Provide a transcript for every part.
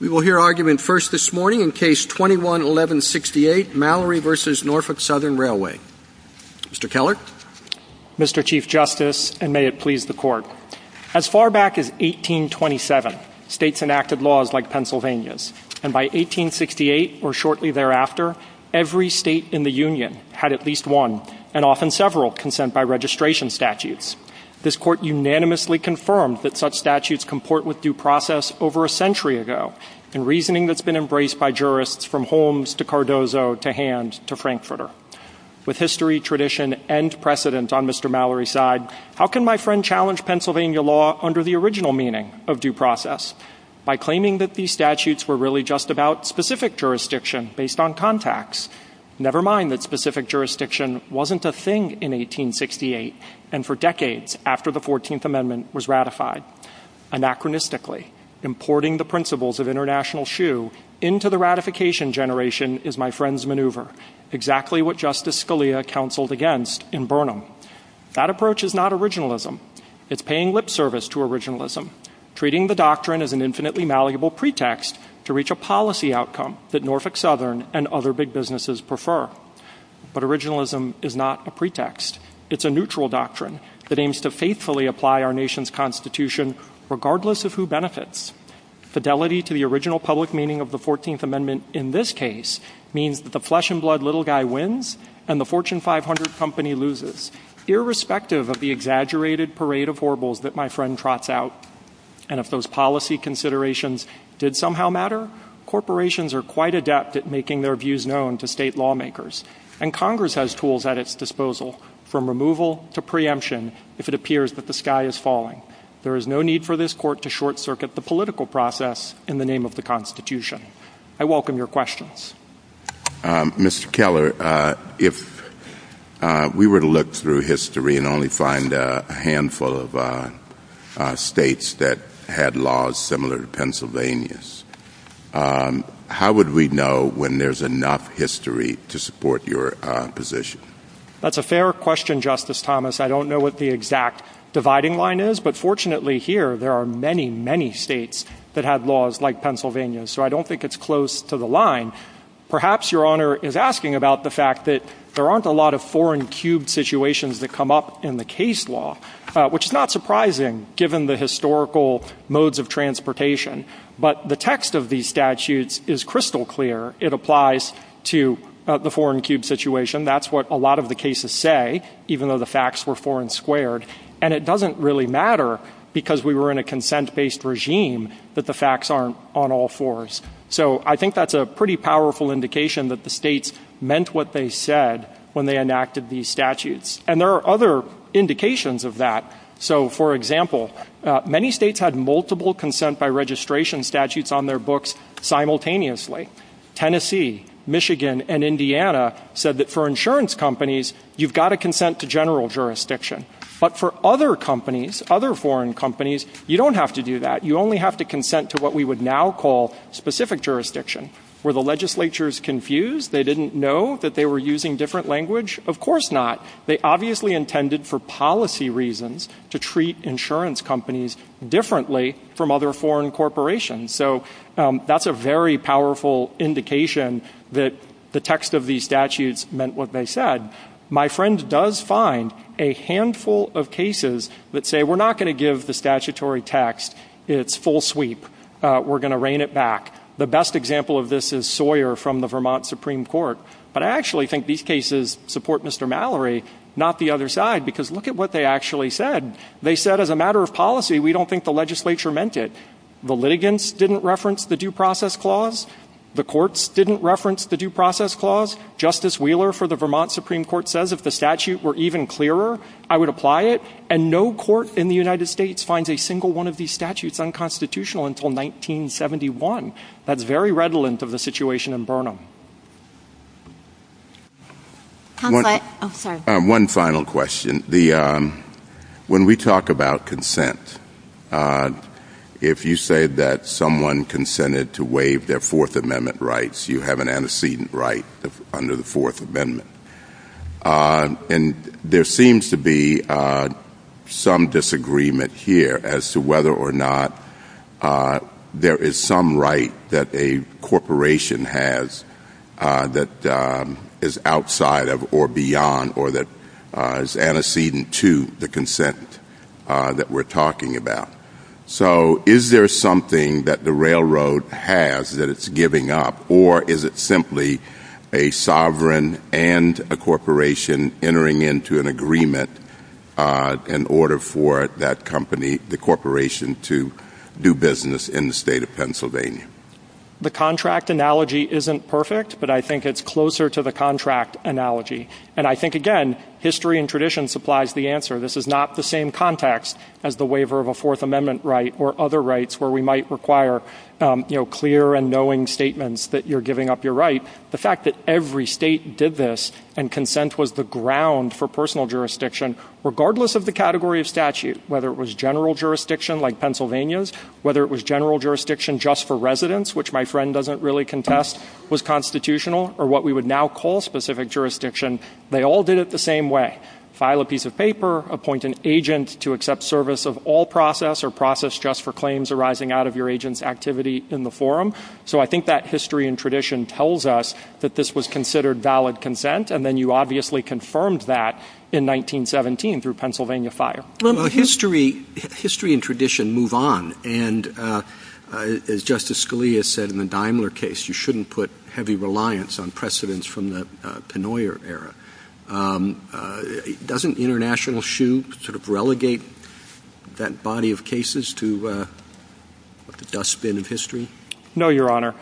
We will hear argument first this morning in Case 21-1168, Mallory v. Norfolk Southern Railway. Mr. Keller? Mr. Chief Justice, and may it please the Court, as far back as 1827, states enacted laws like Pennsylvania's, and by 1868, or shortly thereafter, every state in the Union had at least one, and often several, consent by registration statutes. This Court unanimously confirmed that such statutes comport with due process over a century ago, in reasoning that's been embraced by jurists from Holmes to Cardozo to Hand to Frankfurter. With history, tradition, and precedence on Mr. Mallory's side, how can my friend challenge Pennsylvania law under the original meaning of due process? By claiming that these statutes were really just about specific jurisdiction based on contacts. Never mind that specific jurisdiction wasn't a thing in 1868, and for decades after the 14th Amendment was ratified. Anachronistically, importing the principles of international shoe into the ratification generation is my friend's maneuver. Exactly what Justice Scalia counseled against in Burnham. That approach is not originalism. It's paying lip service to originalism. Treating the doctrine as an infinitely malleable pretext to reach a policy outcome that Norfolk Southern and other big businesses prefer. But originalism is not a pretext. It's a neutral doctrine that aims to faithfully apply our nation's Constitution, regardless of who benefits. Fidelity to the original public meaning of the 14th Amendment in this case means that the flesh and blood little guy wins, and the Fortune 500 company loses, irrespective of the exaggerated parade of horribles that my friend trots out. And if those policy considerations did somehow matter, corporations are quite adept at making their views known to state lawmakers. And Congress has tools at its disposal, from removal to preemption, if it appears that the sky is falling. There is no need for this court to short circuit the political process in the name of the Constitution. I welcome your questions. Mr. Keller, if we were to look through history and only find a handful of states that had laws similar to Pennsylvania's, how would we know when there's enough history to support your position? That's a fair question, Justice Thomas. I don't know what the exact dividing line is, but fortunately here there are many, many states that had laws like Pennsylvania's, so I don't think it's close to the line. Perhaps Your Honor is asking about the fact that there aren't a lot of foreign cube situations that come up in the case law, which is not surprising given the historical modes of transportation. But the text of these statutes is crystal clear. It applies to the foreign cube situation. That's what a lot of the cases say, even though the facts were foreign squared. And it doesn't really matter because we were in a consent-based regime that the facts aren't on all fours. So I think that's a pretty powerful indication that the states meant what they said when they enacted these statutes. And there are other indications of that. So, for example, many states had multiple consent-by-registration statutes on their books simultaneously. Tennessee, Michigan, and Indiana said that for insurance companies, you've got to consent to general jurisdiction. But for other companies, other foreign companies, you don't have to do that. You only have to consent to what we would now call specific jurisdiction. Were the legislatures confused? They didn't know that they were using different language? Of course not. They obviously intended for policy reasons to treat insurance companies differently from other foreign corporations. So that's a very powerful indication that the text of these statutes meant what they said. My friend does find a handful of cases that say, we're not going to give the statutory text its full sweep. We're going to rein it back. The best example of this is Sawyer from the Vermont Supreme Court. But I actually think these cases support Mr. Mallory, not the other side, because look at what they actually said. They said, as a matter of policy, we don't think the legislature meant it. The litigants didn't reference the due process clause. The courts didn't reference the due process clause. Justice Wheeler for the Vermont Supreme Court says, if the statute were even clearer, I would apply it. And no court in the United States finds a single one of these statutes unconstitutional until 1971. That's very redolent of the situation in Burnham. One final question. When we talk about consent, if you say that someone consented to waive their Fourth Amendment rights, you have an antecedent right under the Fourth Amendment. And there seems to be some disagreement here as to whether or not there is some right that a corporation has that is outside of or beyond or that is antecedent to the consent that we're talking about. So is there something that the railroad has that it's giving up, or is it simply a sovereign and a corporation entering into an agreement in order for that company, the corporation, to do business in the state of Pennsylvania? The contract analogy isn't perfect, but I think it's closer to the contract analogy. And I think, again, history and tradition supplies the answer. This is not the same context as the waiver of a Fourth Amendment right or other rights where we might require clear and knowing statements that you're giving up your right. The fact that every state did this and consent was the ground for personal jurisdiction, regardless of the category of statute, whether it was general jurisdiction like Pennsylvania's, whether it was general jurisdiction just for residents, which my friend doesn't really contest was constitutional, or what we would now call specific jurisdiction, they all did it the same way. File a piece of paper, appoint an agent to accept service of all process or process just for claims arising out of your agent's activity in the forum. So I think that history and tradition tells us that this was considered valid consent, and then you obviously confirmed that in 1917 through Pennsylvania Fire. Well, history and tradition move on. And as Justice Scalia said in the Daimler case, you shouldn't put heavy reliance on precedents from the Pennoyer era. Doesn't international shoe sort of relegate that body of cases to dustbin of history? No, Your Honor.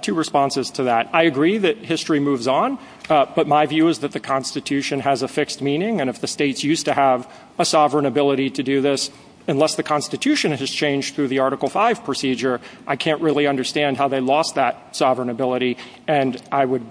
Two responses to that. I agree that history moves on, but my view is that the Constitution has a fixed meaning, and if the states used to have a sovereign ability to do this, unless the Constitution has changed through the Article V procedure, I can't really understand how they lost that sovereign ability. And I would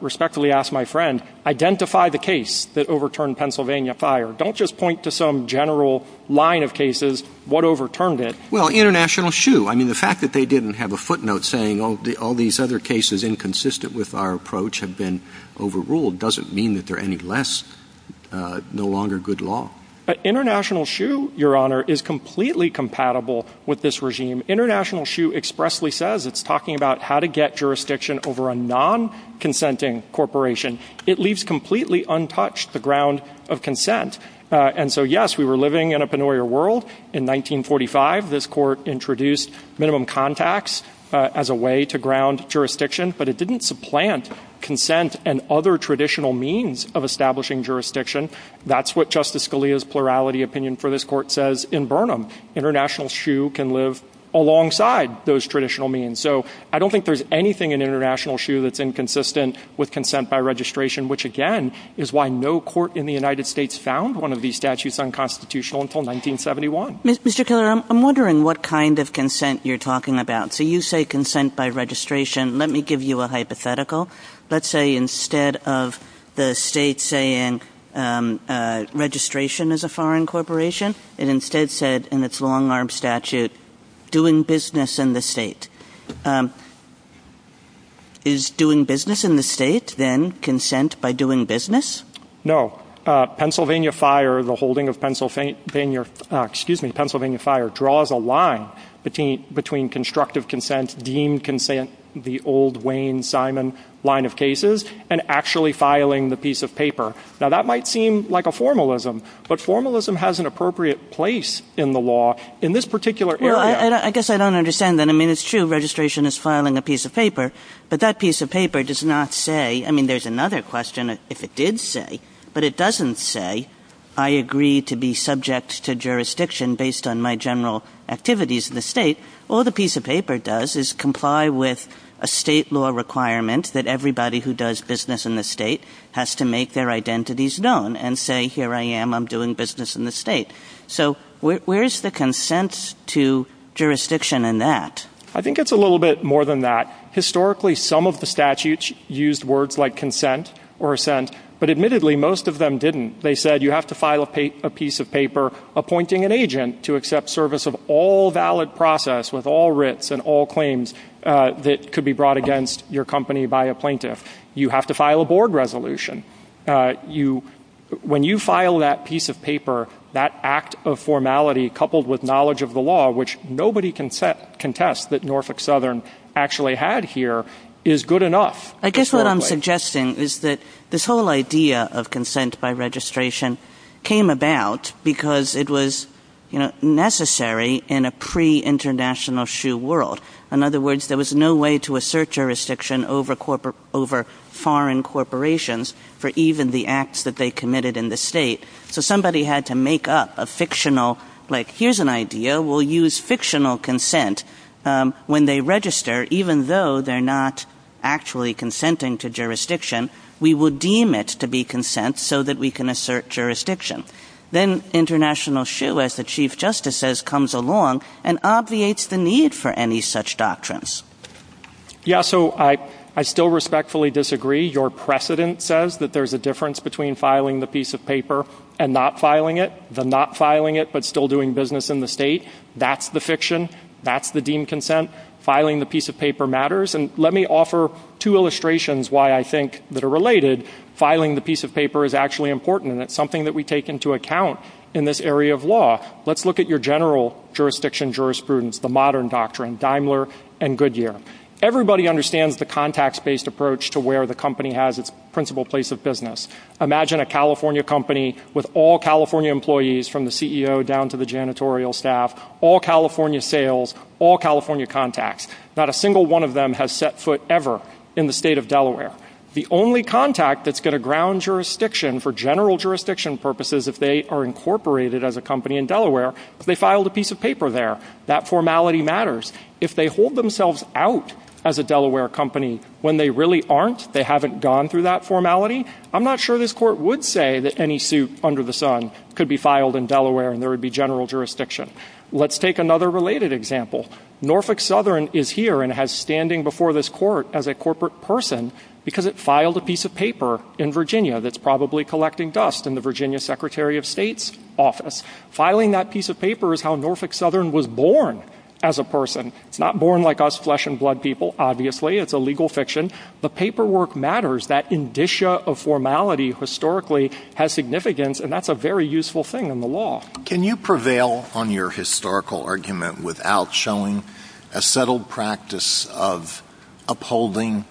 respectfully ask my friend, identify the case that overturned Pennsylvania Fire. Don't just point to some general line of cases. What overturned it? Well, international shoe. I mean, the fact that they didn't have a footnote saying all these other cases inconsistent with our approach have been overruled doesn't mean that they're any less, no longer good law. International shoe, Your Honor, is completely compatible with this regime. International shoe expressly says it's talking about how to get jurisdiction over a non-consenting corporation. It leaves completely untouched the ground of consent. And so, yes, we were living in a Pennoyer world in 1945. This court introduced minimum contacts as a way to ground jurisdiction, but it didn't supplant consent and other traditional means of establishing jurisdiction. That's what Justice Scalia's plurality opinion for this court says in Burnham. International shoe can live alongside those traditional means. So I don't think there's anything in international shoe that's inconsistent with consent by registration, which, again, is why no court in the United States found one of these statutes unconstitutional until 1971. Mr. Keller, I'm wondering what kind of consent you're talking about. So you say consent by registration. Let me give you a hypothetical. Let's say instead of the state saying registration is a foreign corporation, it instead said in its long-arm statute doing business in the state. Is doing business in the state then consent by doing business? No. Pennsylvania Fire, the holding of Pennsylvania, excuse me, Pennsylvania Fire draws a line between constructive consent, deemed consent, the old Wayne Simon line of cases, and actually filing the piece of paper. Now, that might seem like a formalism, but formalism has an appropriate place in the law in this particular area. Well, I guess I don't understand that. I mean, it's true registration is filing a piece of paper, but that piece of paper does not say, I mean, there's another question if it did say, but it doesn't say, I agree to be subject to jurisdiction based on my general activities in the state. All the piece of paper does is comply with a state law requirement that everybody who does business in the state has to make their identities known and say, here I am, I'm doing business in the state. So where is the consent to jurisdiction in that? I think it's a little bit more than that. Historically, some of the statutes used words like consent or assent, but admittedly, most of them didn't. They said you have to file a piece of paper appointing an agent to accept service of all valid process with all writs and all claims that could be brought against your company by a plaintiff. You have to file a board resolution. When you file that piece of paper, that act of formality coupled with knowledge of the law, which nobody can contest that Norfolk Southern actually had here, is good enough. I guess what I'm suggesting is that this whole idea of consent by registration came about because it was necessary in a pre-international shoe world. In other words, there was no way to assert jurisdiction over foreign corporations for even the acts that they committed in the state. So somebody had to make up a fictional, like, here's an idea, we'll use fictional consent. When they register, even though they're not actually consenting to jurisdiction, we would deem it to be consent so that we can assert jurisdiction. Then international shoe, as the Chief Justice says, comes along and obviates the need for any such doctrines. Yeah, so I still respectfully disagree. Your precedent says that there's a difference between filing the piece of paper and not filing it. The not filing it but still doing business in the state, that's the fiction. That's the deemed consent. Filing the piece of paper matters. And let me offer two illustrations why I think that are related. Filing the piece of paper is actually important and it's something that we take into account in this area of law. Let's look at your general jurisdiction jurisprudence, the modern doctrine, Daimler and Goodyear. Everybody understands the contacts-based approach to where the company has its principal place of business. Imagine a California company with all California employees from the CEO down to the janitorial staff, all California sales, all California contacts. Not a single one of them has set foot ever in the state of Delaware. The only contact that's going to ground jurisdiction for general jurisdiction purposes if they are incorporated as a company in Delaware, if they filed a piece of paper there, that formality matters. If they hold themselves out as a Delaware company when they really aren't, they haven't gone through that formality, I'm not sure this court would say that any suit under the sun could be filed in Delaware and there would be general jurisdiction. Let's take another related example. Norfolk Southern is here and has standing before this court as a corporate person because it filed a piece of paper in Virginia that's probably collecting dust in the Virginia Secretary of State's office. Filing that piece of paper is how Norfolk Southern was born as a person. It's not born like us flesh and blood people, obviously, it's a legal fiction. The paperwork matters, that indicia of formality historically has significance and that's a very useful thing in the law. Can you prevail on your historical argument without showing a settled practice of upholding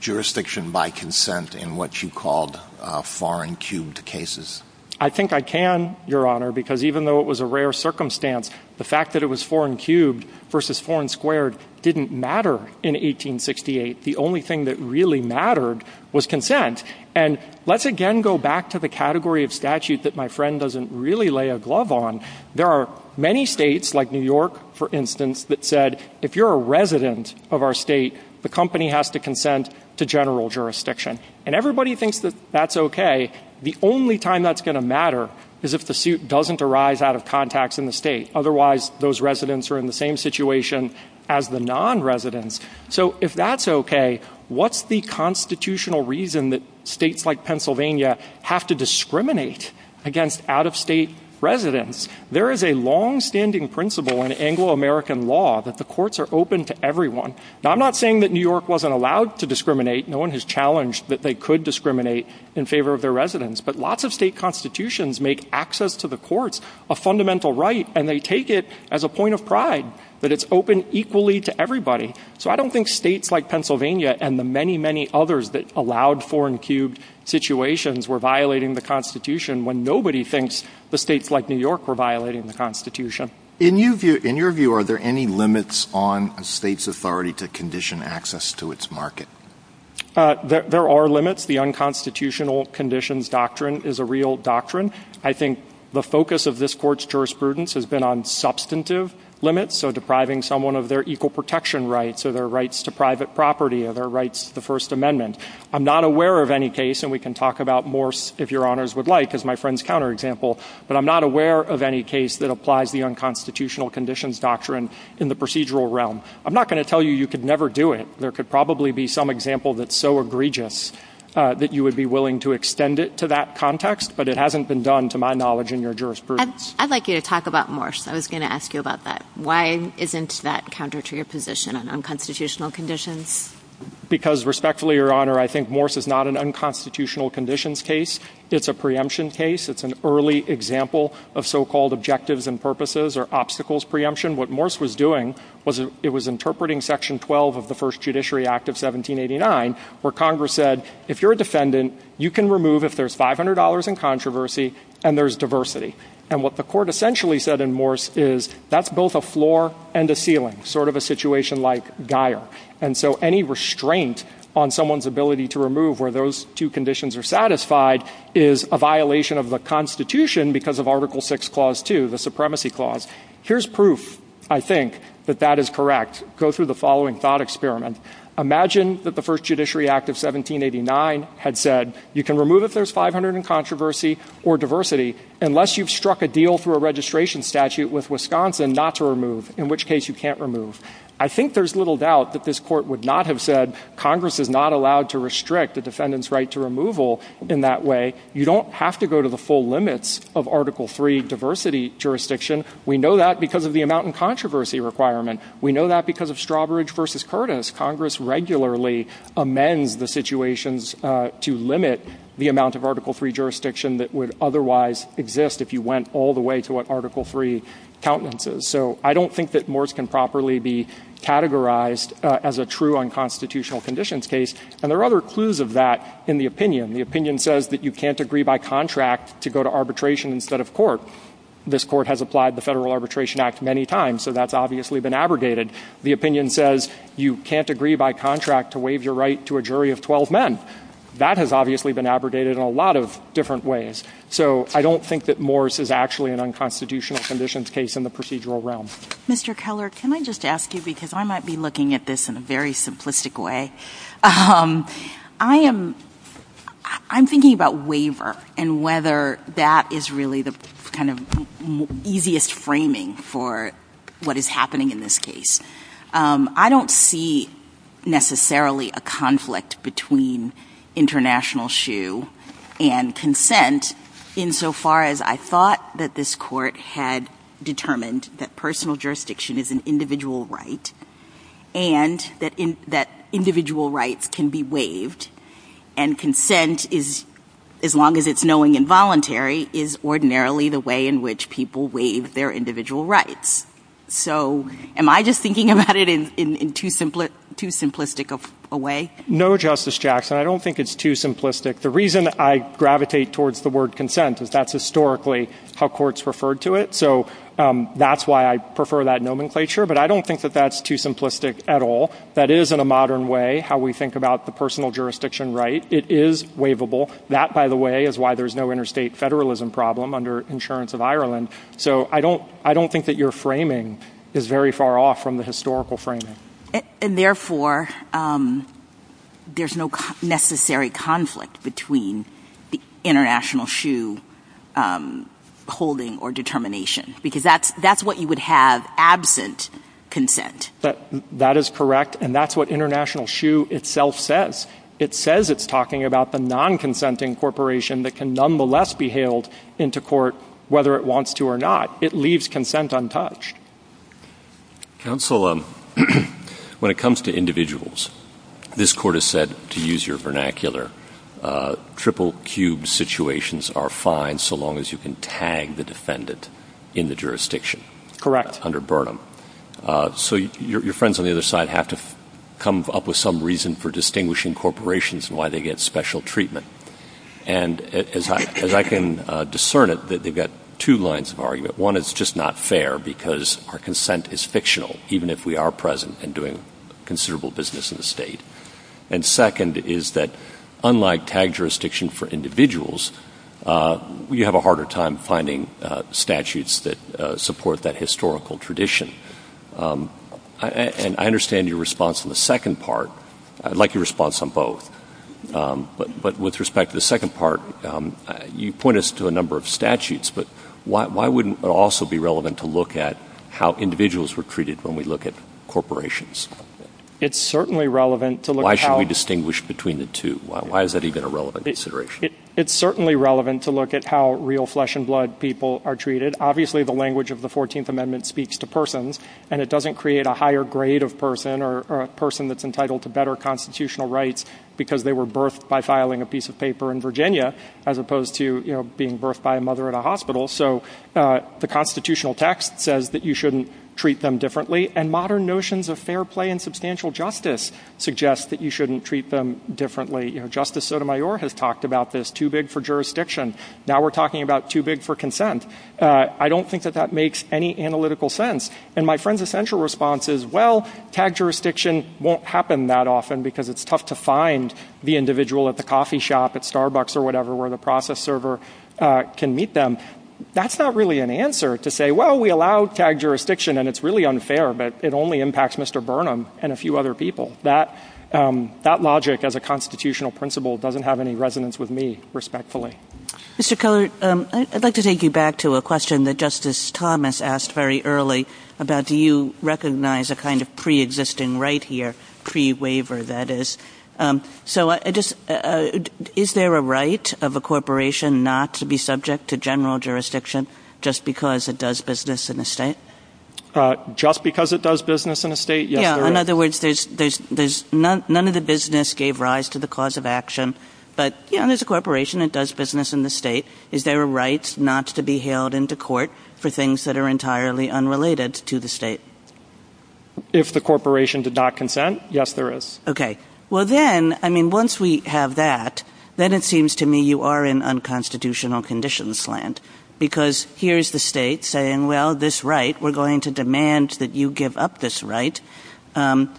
jurisdiction by consent in what you called foreign-cubed cases? I think I can, Your Honor, because even though it was a rare circumstance, the fact that it was foreign-cubed versus foreign-squared didn't matter in 1868. The only thing that really mattered was consent. And let's again go back to the category of statute that my friend doesn't really lay a glove on. There are many states like New York, for instance, that said if you're a resident of our state, the company has to consent to general jurisdiction. And everybody thinks that that's okay. The only time that's going to matter is if the suit doesn't arise out of context in the state. Otherwise, those residents are in the same situation as the non-residents. So if that's okay, what's the constitutional reason that states like Pennsylvania have to discriminate against out-of-state residents? There is a long-standing principle in Anglo-American law that the courts are open to everyone. Now, I'm not saying that New York wasn't allowed to discriminate. No one has challenged that they could discriminate in favor of their residents. But lots of state constitutions make access to the courts a fundamental right, and they take it as a point of pride that it's open equally to everybody. So I don't think states like Pennsylvania and the many, many others that allowed foreign-cubed situations were violating the Constitution when nobody thinks that states like New York were violating the Constitution. In your view, are there any limits on a state's authority to condition access to its market? There are limits. The unconstitutional conditions doctrine is a real doctrine. I think the focus of this court's jurisprudence has been on substantive limits, so depriving someone of their equal protection rights or their rights to private property or their rights to the First Amendment. I'm not aware of any case, and we can talk about Morse, if Your Honors would like, as my friend's counterexample, but I'm not aware of any case that applies the unconstitutional conditions doctrine in the procedural realm. I'm not going to tell you you could never do it. There could probably be some example that's so egregious that you would be willing to extend it to that context, but it hasn't been done, to my knowledge, in your jurisprudence. I'd like you to talk about Morse. I was going to ask you about that. Why isn't that counter to your position on unconstitutional conditions? Because, respectfully, Your Honor, I think Morse is not an unconstitutional conditions case. It's a preemption case. It's an early example of so-called objectives and purposes or obstacles preemption. What Morse was doing was it was interpreting Section 12 of the First Judiciary Act of 1789, where Congress said, if you're a defendant, you can remove, if there's $500 in controversy and there's diversity. And what the court essentially said in Morse is that's both a floor and a ceiling, sort of a situation like Geier. And so any restraint on someone's ability to remove where those two conditions are satisfied is a violation of the Constitution because of Article 6, Clause 2, the Supremacy Clause. Here's proof, I think, that that is correct. Go through the following thought experiment. Imagine that the First Judiciary Act of 1789 had said, you can remove if there's $500 in controversy or diversity, unless you've struck a deal through a registration statute with Wisconsin not to remove, in which case you can't remove. I think there's little doubt that this court would not have said, Congress is not allowed to restrict the defendant's right to removal in that way. You don't have to go to the full limits of Article 3 diversity jurisdiction. We know that because of the amount in controversy requirement. We know that because of Strawbridge v. Curtis. Congress regularly amends the situations to limit the amount of Article 3 jurisdiction that would otherwise exist if you went all the way to what Article 3 countenances. So I don't think that Morse can properly be categorized as a true unconstitutional conditions case. And there are other clues of that in the opinion. The opinion says that you can't agree by contract to go to arbitration instead of court. This court has applied the Federal Arbitration Act many times, so that's obviously been abrogated. The opinion says you can't agree by contract to waive your right to a jury of 12 men. That has obviously been abrogated in a lot of different ways. So I don't think that Morse is actually an unconstitutional conditions case in the procedural realm. Mr. Keller, can I just ask you, because I might be looking at this in a very simplistic way, I'm thinking about waiver and whether that is really the easiest framing for what is happening in this case. I don't see necessarily a conflict between international shoe and consent insofar as I thought that this court had determined that personal jurisdiction is an individual right and that individual rights can be waived. And consent, as long as it's knowing and voluntary, is ordinarily the way in which people waive their individual rights. So am I just thinking about it in too simplistic a way? No, Justice Jackson. I don't think it's too simplistic. The reason I gravitate towards the word consent is that's historically how courts referred to it. So that's why I prefer that nomenclature, but I don't think that that's too simplistic at all. That is, in a modern way, how we think about the personal jurisdiction right. It is waivable. That, by the way, is why there's no interstate federalism problem under insurance of Ireland. So I don't think that your framing is very far off from the historical framing. And therefore, there's no necessary conflict between the international shoe holding or determination. Because that's what you would have absent consent. That is correct, and that's what international shoe itself says. It says it's talking about the non-consenting corporation that can nonetheless be hailed into court whether it wants to or not. It leaves consent untouched. Counsel, when it comes to individuals, this court has said, to use your vernacular, triple cube situations are fine so long as you can tag the defendant in the jurisdiction. Correct. Under Burnham. So your friends on the other side have to come up with some reason for distinguishing corporations and why they get special treatment. And as I can discern it, they've got two lines of argument. One, it's just not fair because our consent is fictional, even if we are present and doing considerable business in the state. And second is that, unlike tag jurisdiction for individuals, you have a harder time finding statutes that support that historical tradition. And I understand your response on the second part. I'd like your response on both. But with respect to the second part, you point us to a number of statutes, but why wouldn't it also be relevant to look at how individuals were treated when we look at corporations? It's certainly relevant to look at how... Why should we distinguish between the two? Why is that even a relevant consideration? It's certainly relevant to look at how real flesh and blood people are treated. Obviously, the language of the 14th Amendment speaks to persons, and it doesn't create a higher grade of person or a person that's entitled to better constitutional rights because they were birthed by filing a piece of paper in Virginia, as opposed to being birthed by a mother at a hospital. So the constitutional text says that you shouldn't treat them differently. And modern notions of fair play and substantial justice suggest that you shouldn't treat them differently. Justice Sotomayor has talked about this, too big for jurisdiction. Now we're talking about too big for consent. I don't think that that makes any analytical sense. And my friend's essential response is, well, tag jurisdiction won't happen that often because it's tough to find the individual at the coffee shop at Starbucks or whatever where the process server can meet them. That's not really an answer to say, well, we allow tag jurisdiction, and it's really unfair, but it only impacts Mr. Burnham and a few other people. That logic as a constitutional principle doesn't have any resonance with me, respectfully. Mr. Cullard, I'd like to take you back to a question that Justice Thomas asked very early about do you recognize a kind of preexisting right here, pre-waiver, that is. So is there a right of a corporation not to be subject to general jurisdiction just because it does business in a state? Just because it does business in a state? In other words, none of the business gave rise to the cause of action, but there's a corporation that does business in the state. Is there a right not to be hailed into court for things that are entirely unrelated to the state? If the corporation did not consent, yes, there is. Once we have that, then it seems to me you are in unconstitutional conditions land, because here's the state saying, well, this right, we're going to demand that you give up this right to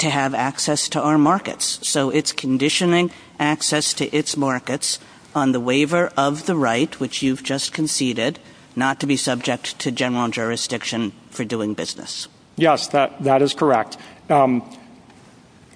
have access to our markets. So it's conditioning access to its markets on the waiver of the right, which you've just conceded, not to be subject to general jurisdiction for doing business. Yes, that is correct. I'm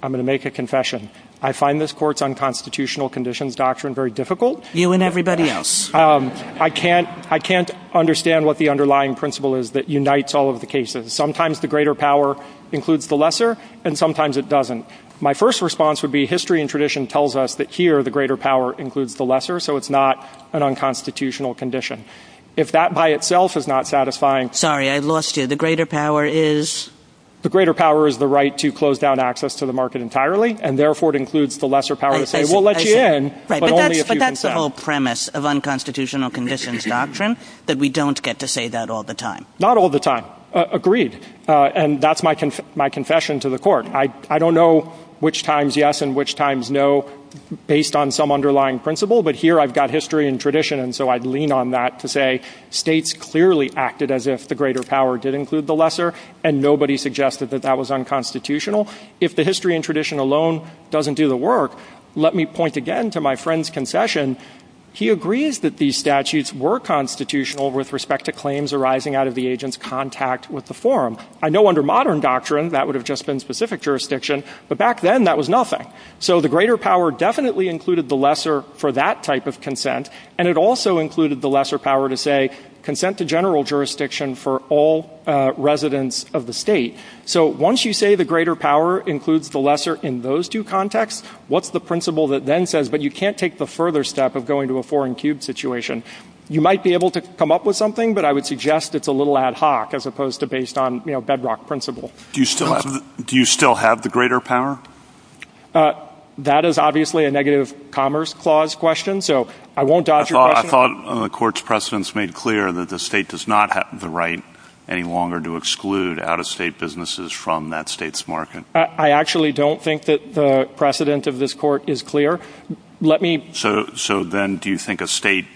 going to make a confession. I find this court's unconstitutional conditions doctrine very difficult. You and everybody else. I can't understand what the underlying principle is that unites all of the cases. Sometimes the greater power includes the lesser, and sometimes it doesn't. My first response would be history and tradition tells us that here the greater power includes the lesser, so it's not an unconstitutional condition. If that by itself is not satisfying. Sorry, I lost you. The greater power is? The greater power is the right to close down access to the market entirely, and therefore it includes the lesser power to say we'll let you in, but only if you consent. But that's the whole premise of unconstitutional conditions doctrine, that we don't get to say that all the time. Not all the time. Agreed. And that's my confession to the court. I don't know which times yes and which times no, based on some underlying principle, but here I've got history and tradition, and so I'd lean on that to say states clearly acted as if the greater power did include the lesser, and nobody suggested that that was unconstitutional. If the history and tradition alone doesn't do the work, let me point again to my friend's concession. He agrees that these statutes were constitutional with respect to claims arising out of the agent's contact with the forum. I know under modern doctrine that would have just been specific jurisdiction, but back then that was nothing. So the greater power definitely included the lesser for that type of consent, and it also included the lesser power to say consent to general jurisdiction for all residents of the state. So once you say the greater power includes the lesser in those two contexts, what's the principle that then says, but you can't take the further step of going to a four-and-cubed situation? You might be able to come up with something, but I would suggest it's a little ad hoc as opposed to based on bedrock principle. Do you still have the greater power? That is obviously a negative commerce clause question, so I won't dodge your question. I thought the court's precedents made clear that the state does not have the right any longer to exclude out-of-state businesses from that state's market. I actually don't think that the precedent of this court is clear. So then do you think a state,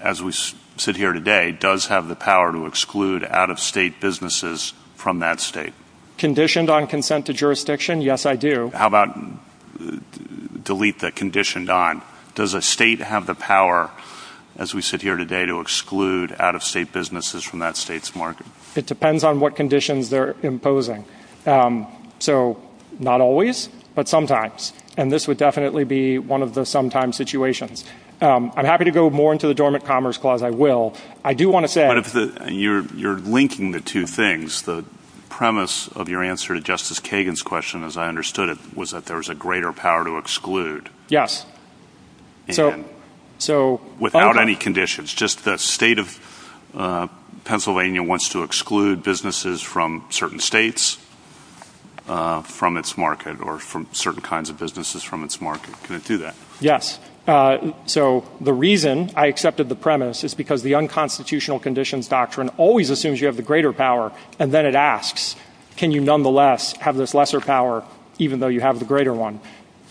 as we sit here today, does have the power to exclude out-of-state businesses from that state? Conditioned on consent to jurisdiction? Yes, I do. How about delete the conditioned on? Does a state have the power, as we sit here today, to exclude out-of-state businesses from that state's market? It depends on what conditions they're imposing. So not always, but sometimes, and this would definitely be one of the sometimes situations. I'm happy to go more into the dormant commerce clause. I will. You're linking the two things. The premise of your answer to Justice Kagan's question, as I understood it, was that there was a greater power to exclude. Yes. Without any conditions. Just the state of Pennsylvania wants to exclude businesses from certain states from its market or from certain kinds of businesses from its market. Can it do that? Yes. So the reason I accepted the premise is because the unconstitutional conditions doctrine always assumes you have the greater power, and then it asks, can you nonetheless have this lesser power, even though you have the greater one?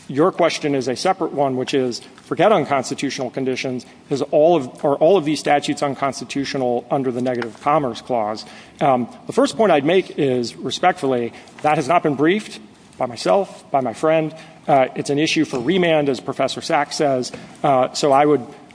Your question is a separate one, which is, forget unconstitutional conditions. Are all of these statutes unconstitutional under the negative commerce clause? The first point I'd make is, respectfully, that has not been briefed by myself, by my friend. It's an issue for remand, as Professor Sachs says. So I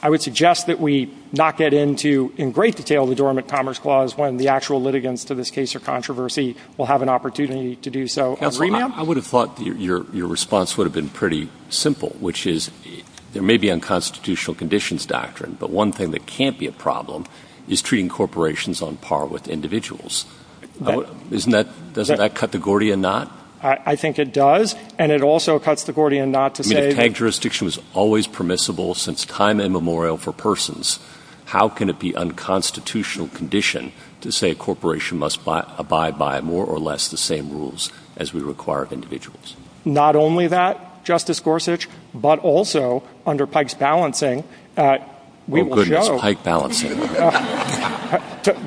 would suggest that we not get into in great detail the dormant commerce clause when the actual litigants to this case or controversy will have an opportunity to do so as remand. I would have thought your response would have been pretty simple, which is, there may be unconstitutional conditions doctrine, but one thing that can't be a problem is treating corporations on par with individuals. Doesn't that cut the Gordian knot? I think it does. And it also cuts the Gordian knot to say- I mean, tank jurisdiction was always permissible since time immemorial for persons. How can it be unconstitutional condition to say a corporation must abide by more or less the same rules as we require of individuals? Not only that, Justice Gorsuch, but also under Pike's balancing, we will show- Oh, goodness, Pike balancing.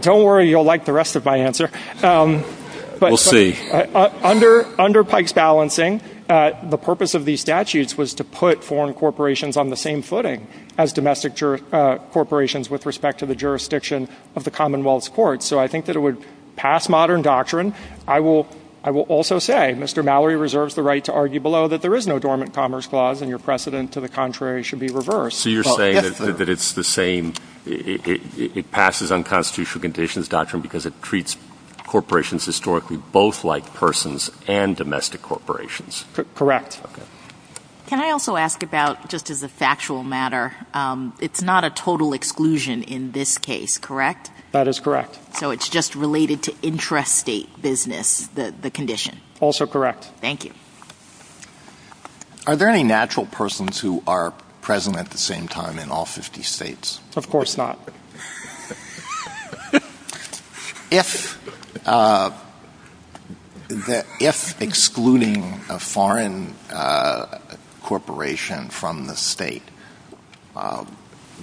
Don't worry, you'll like the rest of my answer. We'll see. Under Pike's balancing, the purpose of these statutes was to put foreign corporations on the same footing as domestic corporations with respect to the jurisdiction of the Commonwealth's courts. So I think that it would pass modern doctrine. I will also say, Mr. Mallory reserves the right to argue below that there is no dormant commerce clause and your precedent to the contrary should be reversed. So you're saying that it's the same- it passes unconstitutional conditions doctrine because it treats corporations historically both like persons and domestic corporations. Correct. Can I also ask about, just as a factual matter, it's not a total exclusion in this case, correct? That is correct. So it's just related to intrastate business, the condition. Also correct. Thank you. Are there any natural persons who are present at the same time in all 50 states? Of course not. If excluding a foreign corporation from the state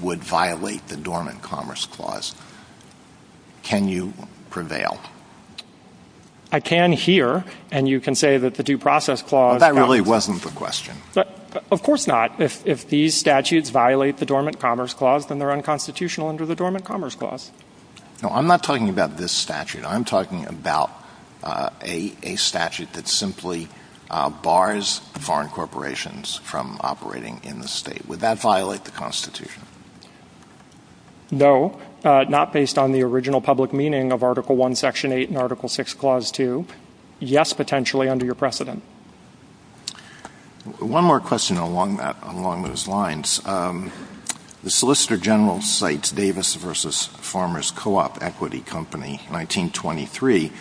would violate the dormant commerce clause, can you prevail? I can here, and you can say that the due process clause- That really wasn't the question. Of course not. If these statutes violate the dormant commerce clause, then they're unconstitutional under the dormant commerce clause. No, I'm not talking about this statute. I'm talking about a statute that simply bars foreign corporations from operating in the state. Would that violate the constitution? No, not based on the original public meaning of Article 1, Section 8, and Article 6, Clause 2. Yes, potentially, under your precedent. One more question along those lines. The Solicitor General cites Davis v. Farmers Co-op Equity Company, 1923,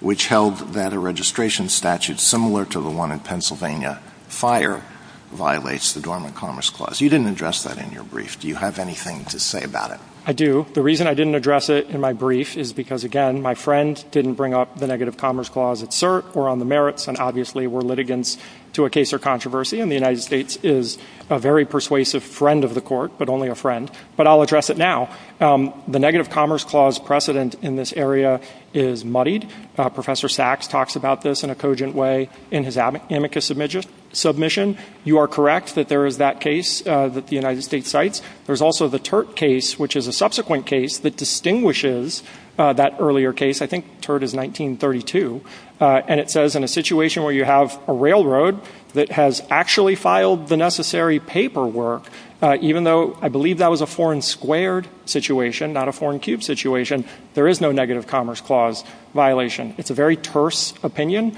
which held that a registration statute similar to the one in Pennsylvania, FIRE, violates the dormant commerce clause. You didn't address that in your brief. Do you have anything to say about it? I do. The reason I didn't address it in my brief is because, again, my friend didn't bring up the negative commerce clause at cert or on the merits, and obviously we're litigants to a case or controversy, and the United States is a very persuasive friend of the court, but only a friend. But I'll address it now. The negative commerce clause precedent in this area is muddied. Professor Sachs talks about this in a cogent way in his amicus submission. You are correct that there is that case that the United States cites. There's also the Turt case, which is a subsequent case that distinguishes that earlier case. I think Turt is 1932, and it says in a situation where you have a railroad that has actually filed the necessary paperwork, even though I believe that was a foreign squared situation, not a foreign cube situation, there is no negative commerce clause violation. It's a very terse opinion.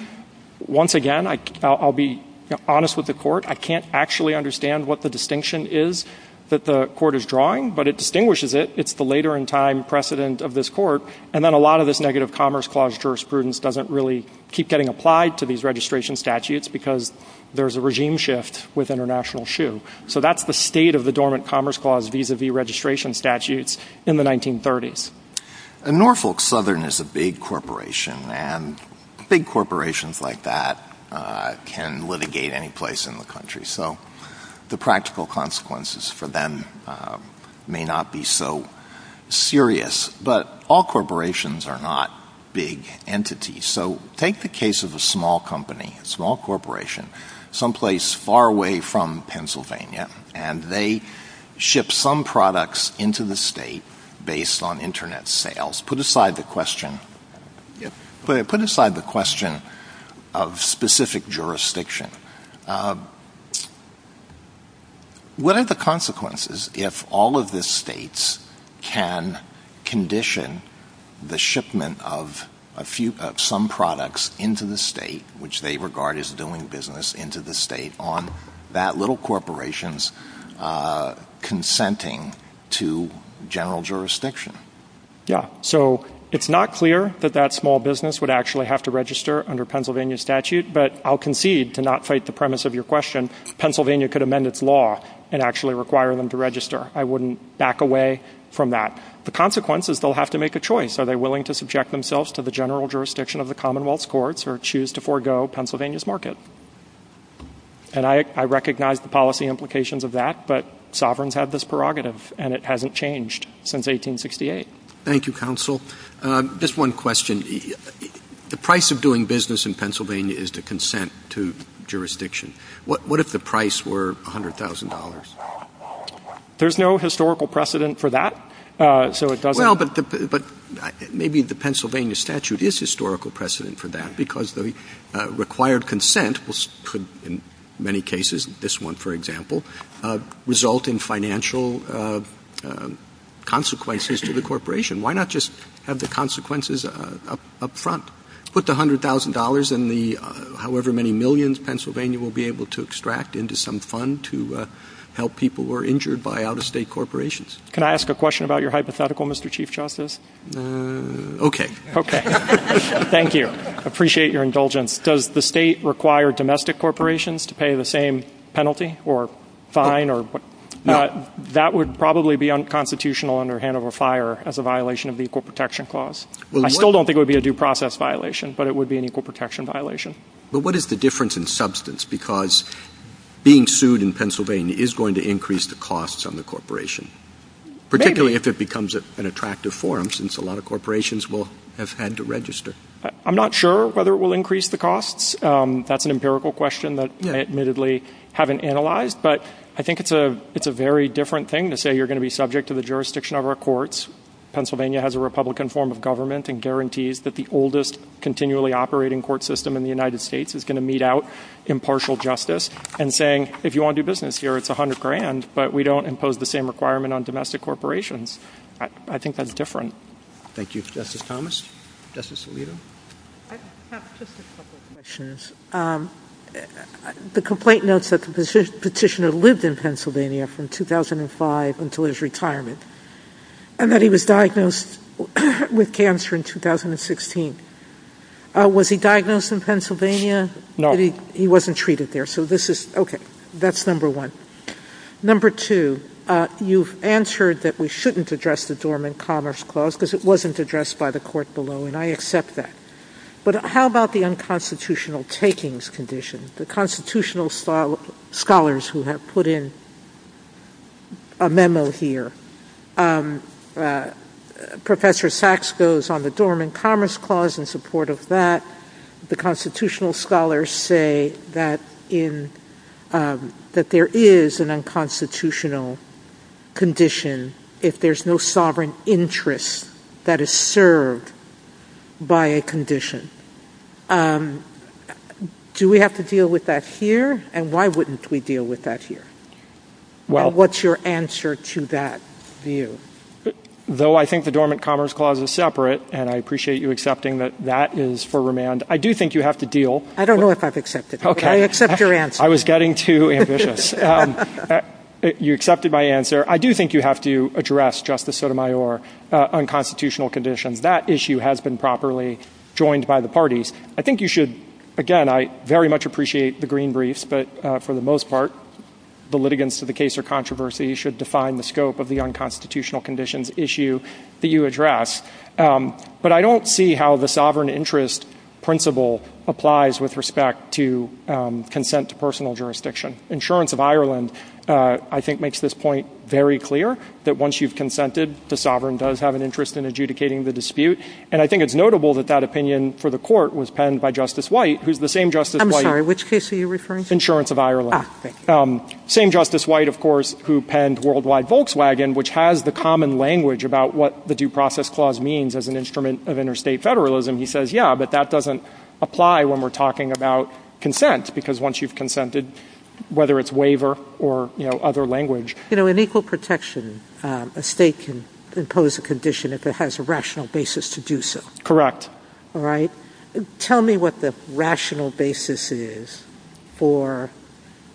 Once again, I'll be honest with the court. I can't actually understand what the distinction is that the court is drawing, but it distinguishes it. It's the later in time precedent of this court, and then a lot of this negative commerce clause jurisprudence doesn't really keep getting applied to these registration statutes because there's a regime shift with international shoe. So that's the state of the dormant commerce clause vis-a-vis registration statutes in the 1930s. Norfolk Southern is a big corporation, and big corporations like that can litigate any place in the country. So the practical consequences for them may not be so serious, but all corporations are not big entities. So take the case of a small company, a small corporation, someplace far away from Pennsylvania, and they ship some products into the state based on Internet sales. Put aside the question of specific jurisdiction. What are the consequences if all of the states can condition the shipment of some products into the state, which they regard as doing business into the state on that little corporation's consenting to general jurisdiction? Yeah, so it's not clear that that small business would actually have to register under Pennsylvania statute, but I'll concede to not fight the premise of your question. Pennsylvania could amend its law and actually require them to register. I wouldn't back away from that. The consequence is they'll have to make a choice. Are they willing to subject themselves to the general jurisdiction of the Commonwealth's courts or choose to forego Pennsylvania's market? And I recognize the policy implications of that, but sovereigns have this prerogative, and it hasn't changed since 1868. Thank you, counsel. Just one question. The price of doing business in Pennsylvania is to consent to jurisdiction. What if the price were $100,000? There's no historical precedent for that. Well, but maybe the Pennsylvania statute is historical precedent for that, because the required consent could, in many cases, this one, for example, result in financial consequences to the corporation. Why not just have the consequences up front? Let's put the $100,000 and however many millions Pennsylvania will be able to extract into some fund to help people who are injured by out-of-state corporations. Can I ask a question about your hypothetical, Mr. Chief Justice? Okay. Okay. Thank you. I appreciate your indulgence. Does the state require domestic corporations to pay the same penalty or fine? That would probably be unconstitutional under Hanover Fire as a violation of the Equal Protection Clause. I still don't think it would be a due process violation, but it would be an equal protection violation. But what is the difference in substance? Because being sued in Pennsylvania is going to increase the costs on the corporation, particularly if it becomes an attractive forum, since a lot of corporations will have had to register. I'm not sure whether it will increase the costs. That's an empirical question that I admittedly haven't analyzed, but I think it's a very different thing to say you're going to be subject to the jurisdiction of our courts. Pennsylvania has a Republican form of government and guarantees that the oldest continually operating court system in the United States is going to mete out impartial justice and saying if you want to do business here, it's 100 grand, but we don't impose the same requirement on domestic corporations. I think that's different. Thank you. Justice Thomas? Justice Alito? I have just a couple of questions. The complaint notes that the petitioner lived in Pennsylvania from 2005 until his retirement. And that he was diagnosed with cancer in 2016. Was he diagnosed in Pennsylvania? No. He wasn't treated there. So this is ‑‑ okay. That's number one. Number two, you've answered that we shouldn't address the dormant commerce clause because it wasn't addressed by the court below, and I accept that. But how about the unconstitutional takings condition? The constitutional scholars who have put in a memo here, Professor Sachs goes on the dormant commerce clause in support of that. The constitutional scholars say that there is an unconstitutional condition if there's no sovereign interest that is served by a condition. Do we have to deal with that here? And why wouldn't we deal with that here? What's your answer to that view? Though I think the dormant commerce clause is separate, and I appreciate you accepting that that is for remand, I do think you have to deal ‑‑ I don't know if I've accepted it. I accept your answer. I was getting too ambitious. You accepted my answer. I do think you have to address, Justice Sotomayor, unconstitutional condition. That issue has been properly joined by the parties. I think you should, again, I very much appreciate the green briefs, but for the most part, the litigants to the case of controversy should define the scope of the unconstitutional conditions issue that you address. But I don't see how the sovereign interest principle applies with respect to consent to personal jurisdiction. Insurance of Ireland, I think, makes this point very clear, that once you've consented, the sovereign does have an interest in adjudicating the dispute. And I think it's notable that that opinion for the court was penned by Justice White, who's the same Justice White ‑‑ I'm sorry, which case are you referring to? Insurance of Ireland. Same Justice White, of course, who penned Worldwide Volkswagen, which has the common language about what the due process clause means as an instrument of interstate federalism. He says, yeah, but that doesn't apply when we're talking about consent, because once you've consented, whether it's waiver or other language. You know, in equal protection, a state can impose a condition if it has a rational basis to do so. Correct. All right? Tell me what the rational basis is for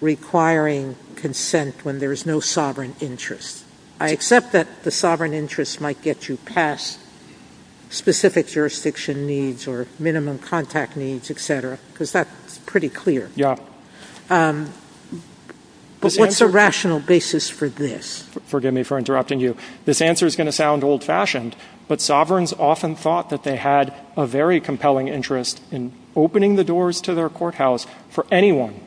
requiring consent when there's no sovereign interest. I accept that the sovereign interest might get you past specific jurisdiction needs or minimum contact needs, et cetera, because that's pretty clear. Yeah. But what's the rational basis for this? Forgive me for interrupting you. This answer is going to sound old-fashioned, but sovereigns often thought that they had a very compelling interest in opening the doors to their courthouse for anyone,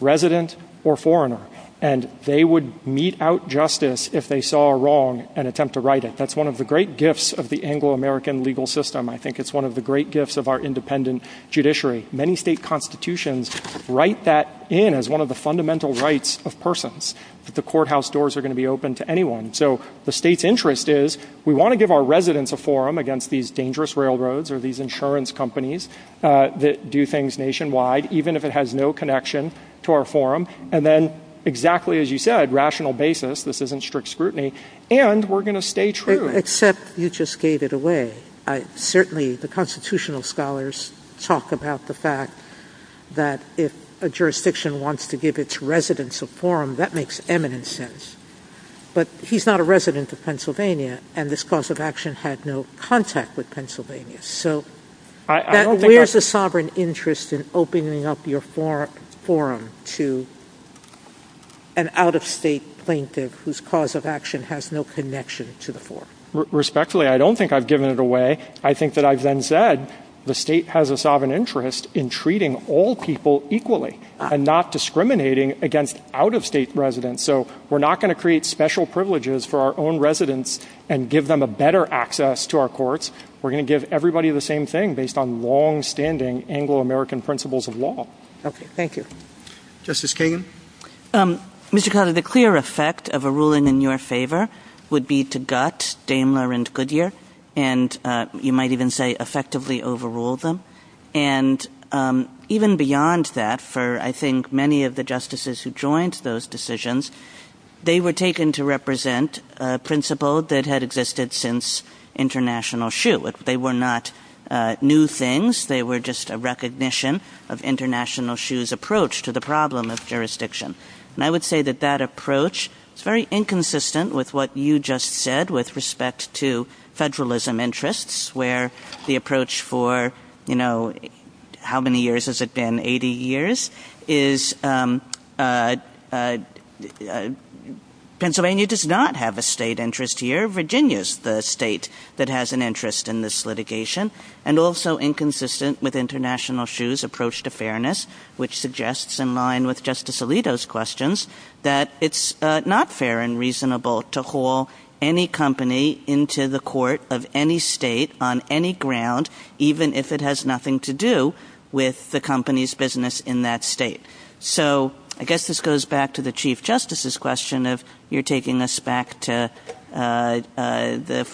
resident or foreigner, and they would mete out justice if they saw a wrong and attempt to right it. That's one of the great gifts of the Anglo‑American legal system. I think it's one of the great gifts of our independent judiciary. Many state constitutions write that in as one of the fundamental rights of persons, that the courthouse doors are going to be open to anyone. So the state's interest is we want to give our residents a forum against these dangerous railroads or these insurance companies that do things nationwide, even if it has no connection to our forum, and then exactly as you said, rational basis, this isn't strict scrutiny, and we're going to stay true. Except you just gave it away. Certainly the constitutional scholars talk about the fact that if a jurisdiction wants to give its residents a forum, that makes eminent sense. But he's not a resident of Pennsylvania, and this cause of action had no contact with Pennsylvania. So where's the sovereign interest in opening up your forum to an out‑of‑state plaintiff whose cause of action has no connection to the forum? Respectfully, I don't think I've given it away. I think that I've then said the state has a sovereign interest in treating all people equally and not discriminating against out‑of‑state residents. So we're not going to create special privileges for our own residents and give them a better access to our courts. We're going to give everybody the same thing based on longstanding Anglo‑American principles of law. Thank you. Justice Kagan? Mr. Connolly, the clear effect of a ruling in your favor would be to gut Daimler and Goodyear, and you might even say effectively overrule them. And even beyond that, for I think many of the justices who joined those decisions, they were taken to represent a principle that had existed since international shoe. They were not new things. They were just a recognition of international shoe's approach to the problem of jurisdiction. And I would say that that approach is very inconsistent with what you just said with respect to federalism interests where the approach for, you know, how many years has it been, 80 years, is Pennsylvania does not have a state interest here. Virginia is the state that has an interest in this litigation and also inconsistent with international shoe's approach to fairness which suggests in line with Justice Alito's questions that it's not fair and reasonable to haul any company into the court of any state on any ground even if it has nothing to do with the company's business in that state. So I guess this goes back to the Chief Justice's question of you're taking this back to the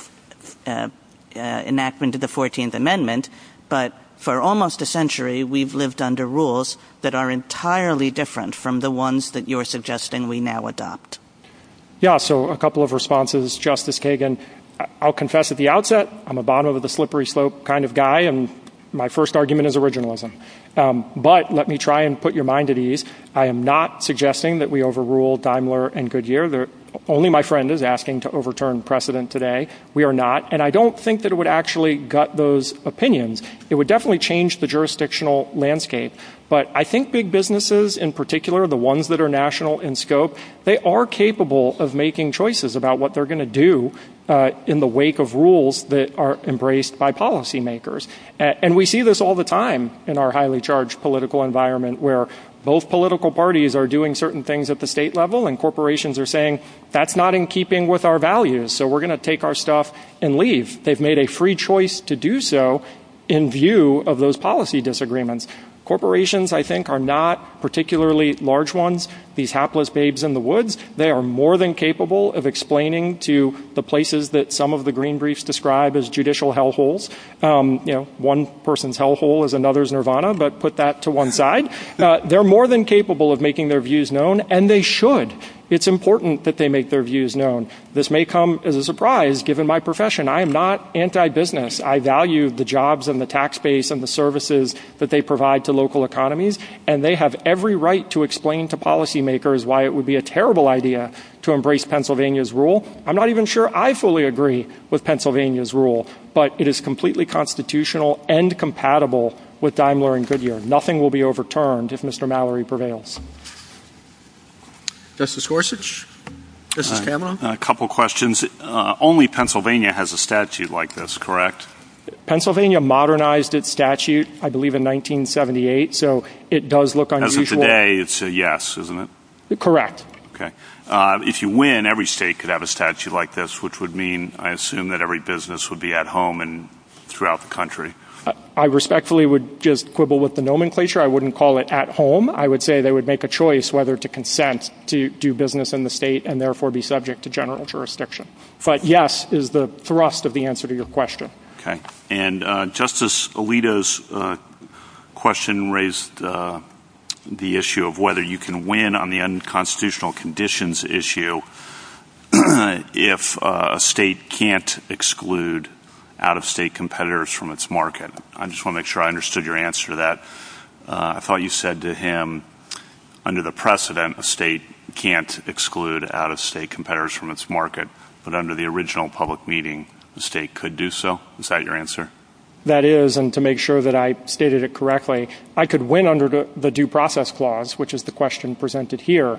enactment of the 14th Amendment, but for almost a century we've lived under rules that are entirely different from the ones that you're suggesting we now adopt. Yeah, so a couple of responses. Justice Kagan, I'll confess at the outset I'm a bottom of the slippery slope kind of guy and my first argument is originalism. But let me try and put your mind at ease. I am not suggesting that we overrule Daimler and Goodyear. Only my friend is asking to overturn precedent today. We are not. And I don't think that it would actually gut those opinions. It would definitely change the jurisdictional landscape. But I think big businesses in particular, the ones that are national in scope, they are capable of making choices about what they're going to do in the wake of rules that are embraced by policymakers. And we see this all the time in our highly charged political environment where both political parties are doing certain things at the state level and corporations are saying that's not in keeping with our values so we're going to take our stuff and leave. They've made a free choice to do so in view of those policy disagreements. Corporations, I think, are not particularly large ones, these hapless babes in the woods. They are more than capable of explaining to the places that some of the green briefs describe as judicial hellholes. You know, one person's hellhole is another's nirvana, but put that to one side. They're more than capable of making their views known and they should. It's important that they make their views known. This may come as a surprise given my profession. I am not anti-business. I value the jobs and the tax base and the services that they provide to local economies, and they have every right to explain to policymakers why it would be a terrible idea to embrace Pennsylvania's rule. I'm not even sure I fully agree with Pennsylvania's rule, but it is completely constitutional and compatible with Daimler and Goodyear. Nothing will be overturned if Mr. Mallory prevails. This is Gorsuch. This is Cameron. A couple questions. Only Pennsylvania has a statute like this, correct? Pennsylvania modernized its statute, I believe, in 1978, so it does look unusual. As of today, it's a yes, isn't it? Correct. Okay. If you win, every state could have a statute like this, which would mean I assume that every business would be at home and throughout the country. I respectfully would just quibble with the nomenclature. I wouldn't call it at home. I would say they would make a choice whether to consent to do business in the state and therefore be subject to general jurisdiction. But yes is the thrust of the answer to your question. Okay. And Justice Alito's question raised the issue of whether you can win on the unconstitutional conditions issue if a state can't exclude out-of-state competitors from its market. I just want to make sure I understood your answer to that. I thought you said to him, under the precedent, a state can't exclude out-of-state competitors from its market, but under the original public meeting, the state could do so. Is that your answer? That is, and to make sure that I stated it correctly, I could win under the due process clause, which is the question presented here,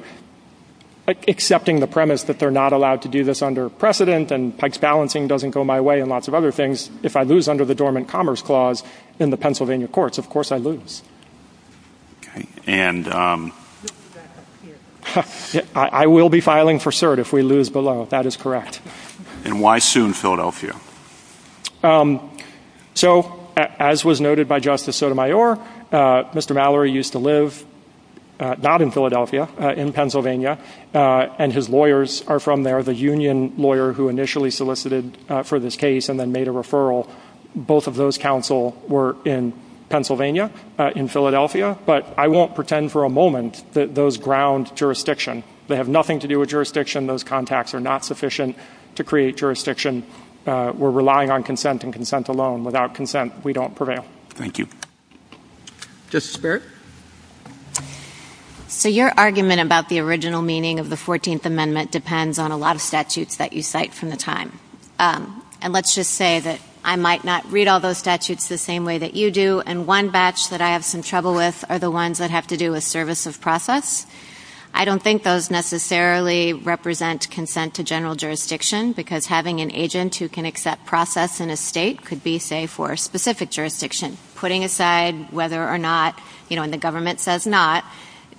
accepting the premise that they're not allowed to do this under precedent and Pikes balancing doesn't go my way and lots of other things. If I lose under the dormant commerce clause in the Pennsylvania courts, of course I lose. And I will be filing for cert if we lose below. That is correct. And why soon Philadelphia? So as was noted by Justice Sotomayor, Mr. Mallory used to live not in Philadelphia, in Pennsylvania, and his lawyers are from there, the union lawyer who initially solicited for this case and then made a referral. Both of those counsel were in Pennsylvania, in Philadelphia. But I won't pretend for a moment that those ground jurisdiction. They have nothing to do with jurisdiction. Those contacts are not sufficient to create jurisdiction. We're relying on consent and consent alone. Without consent, we don't prevail. Thank you. Justice Barrett? So your argument about the original meaning of the 14th Amendment depends on a lot of statutes that you cite from the time. And let's just say that I might not read all those statutes the same way that you do, and one batch that I have some trouble with are the ones that have to do with services process. I don't think those necessarily represent consent to general jurisdiction, because having an agent who can accept process in a state could be, say, for a specific jurisdiction. Putting aside whether or not, you know, and the government says not,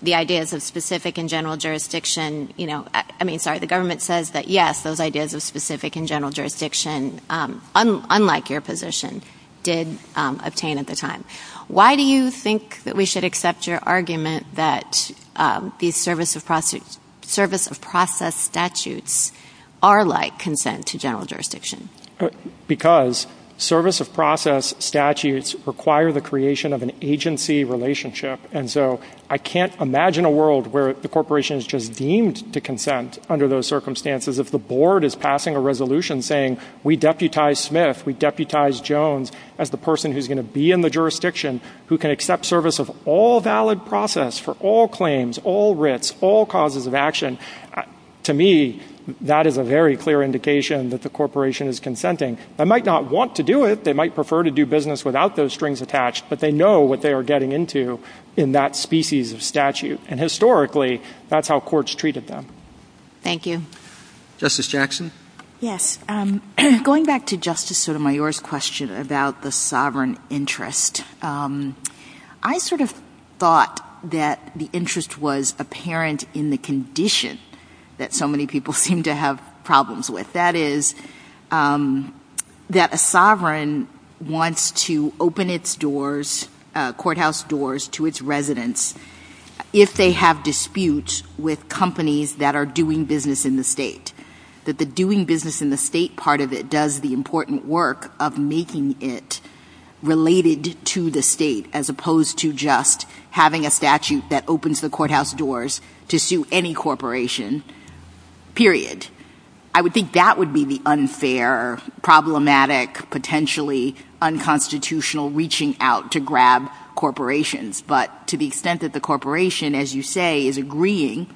the ideas of specific and general jurisdiction, you know, I mean, sorry, the government says that, yes, those ideas of specific and general jurisdiction, unlike your position, did obtain at the time. Why do you think that we should accept your argument that these service of process statutes are like consent to general jurisdiction? Because service of process statutes require the creation of an agency relationship, and so I can't imagine a world where the corporation is just deemed to consent under those circumstances. If the board is passing a resolution saying we deputize Smith, we deputize Jones as the person who's going to be in the jurisdiction, who can accept service of all valid process for all claims, all writs, all causes of action, to me, that is a very clear indication that the corporation is consenting. They might not want to do it. They might prefer to do business without those strings attached, but they know what they are getting into in that species of statute, and historically, that's how courts treated them. Thank you. Justice Jackson? Yes. Going back to Justice Sotomayor's question about the sovereign interest, I sort of thought that the interest was apparent in the condition that so many people seem to have problems with. That is that a sovereign wants to open its doors, courthouse doors, to its residents if they have disputes with companies that are doing business in the state, that the doing business in the state part of it does the important work of making it related to the state as opposed to just having a statute that opens the courthouse doors to sue any corporation, period. I would think that would be the unfair, problematic, potentially unconstitutional reaching out to grab corporations, but to the extent that the corporation, as you say, is agreeing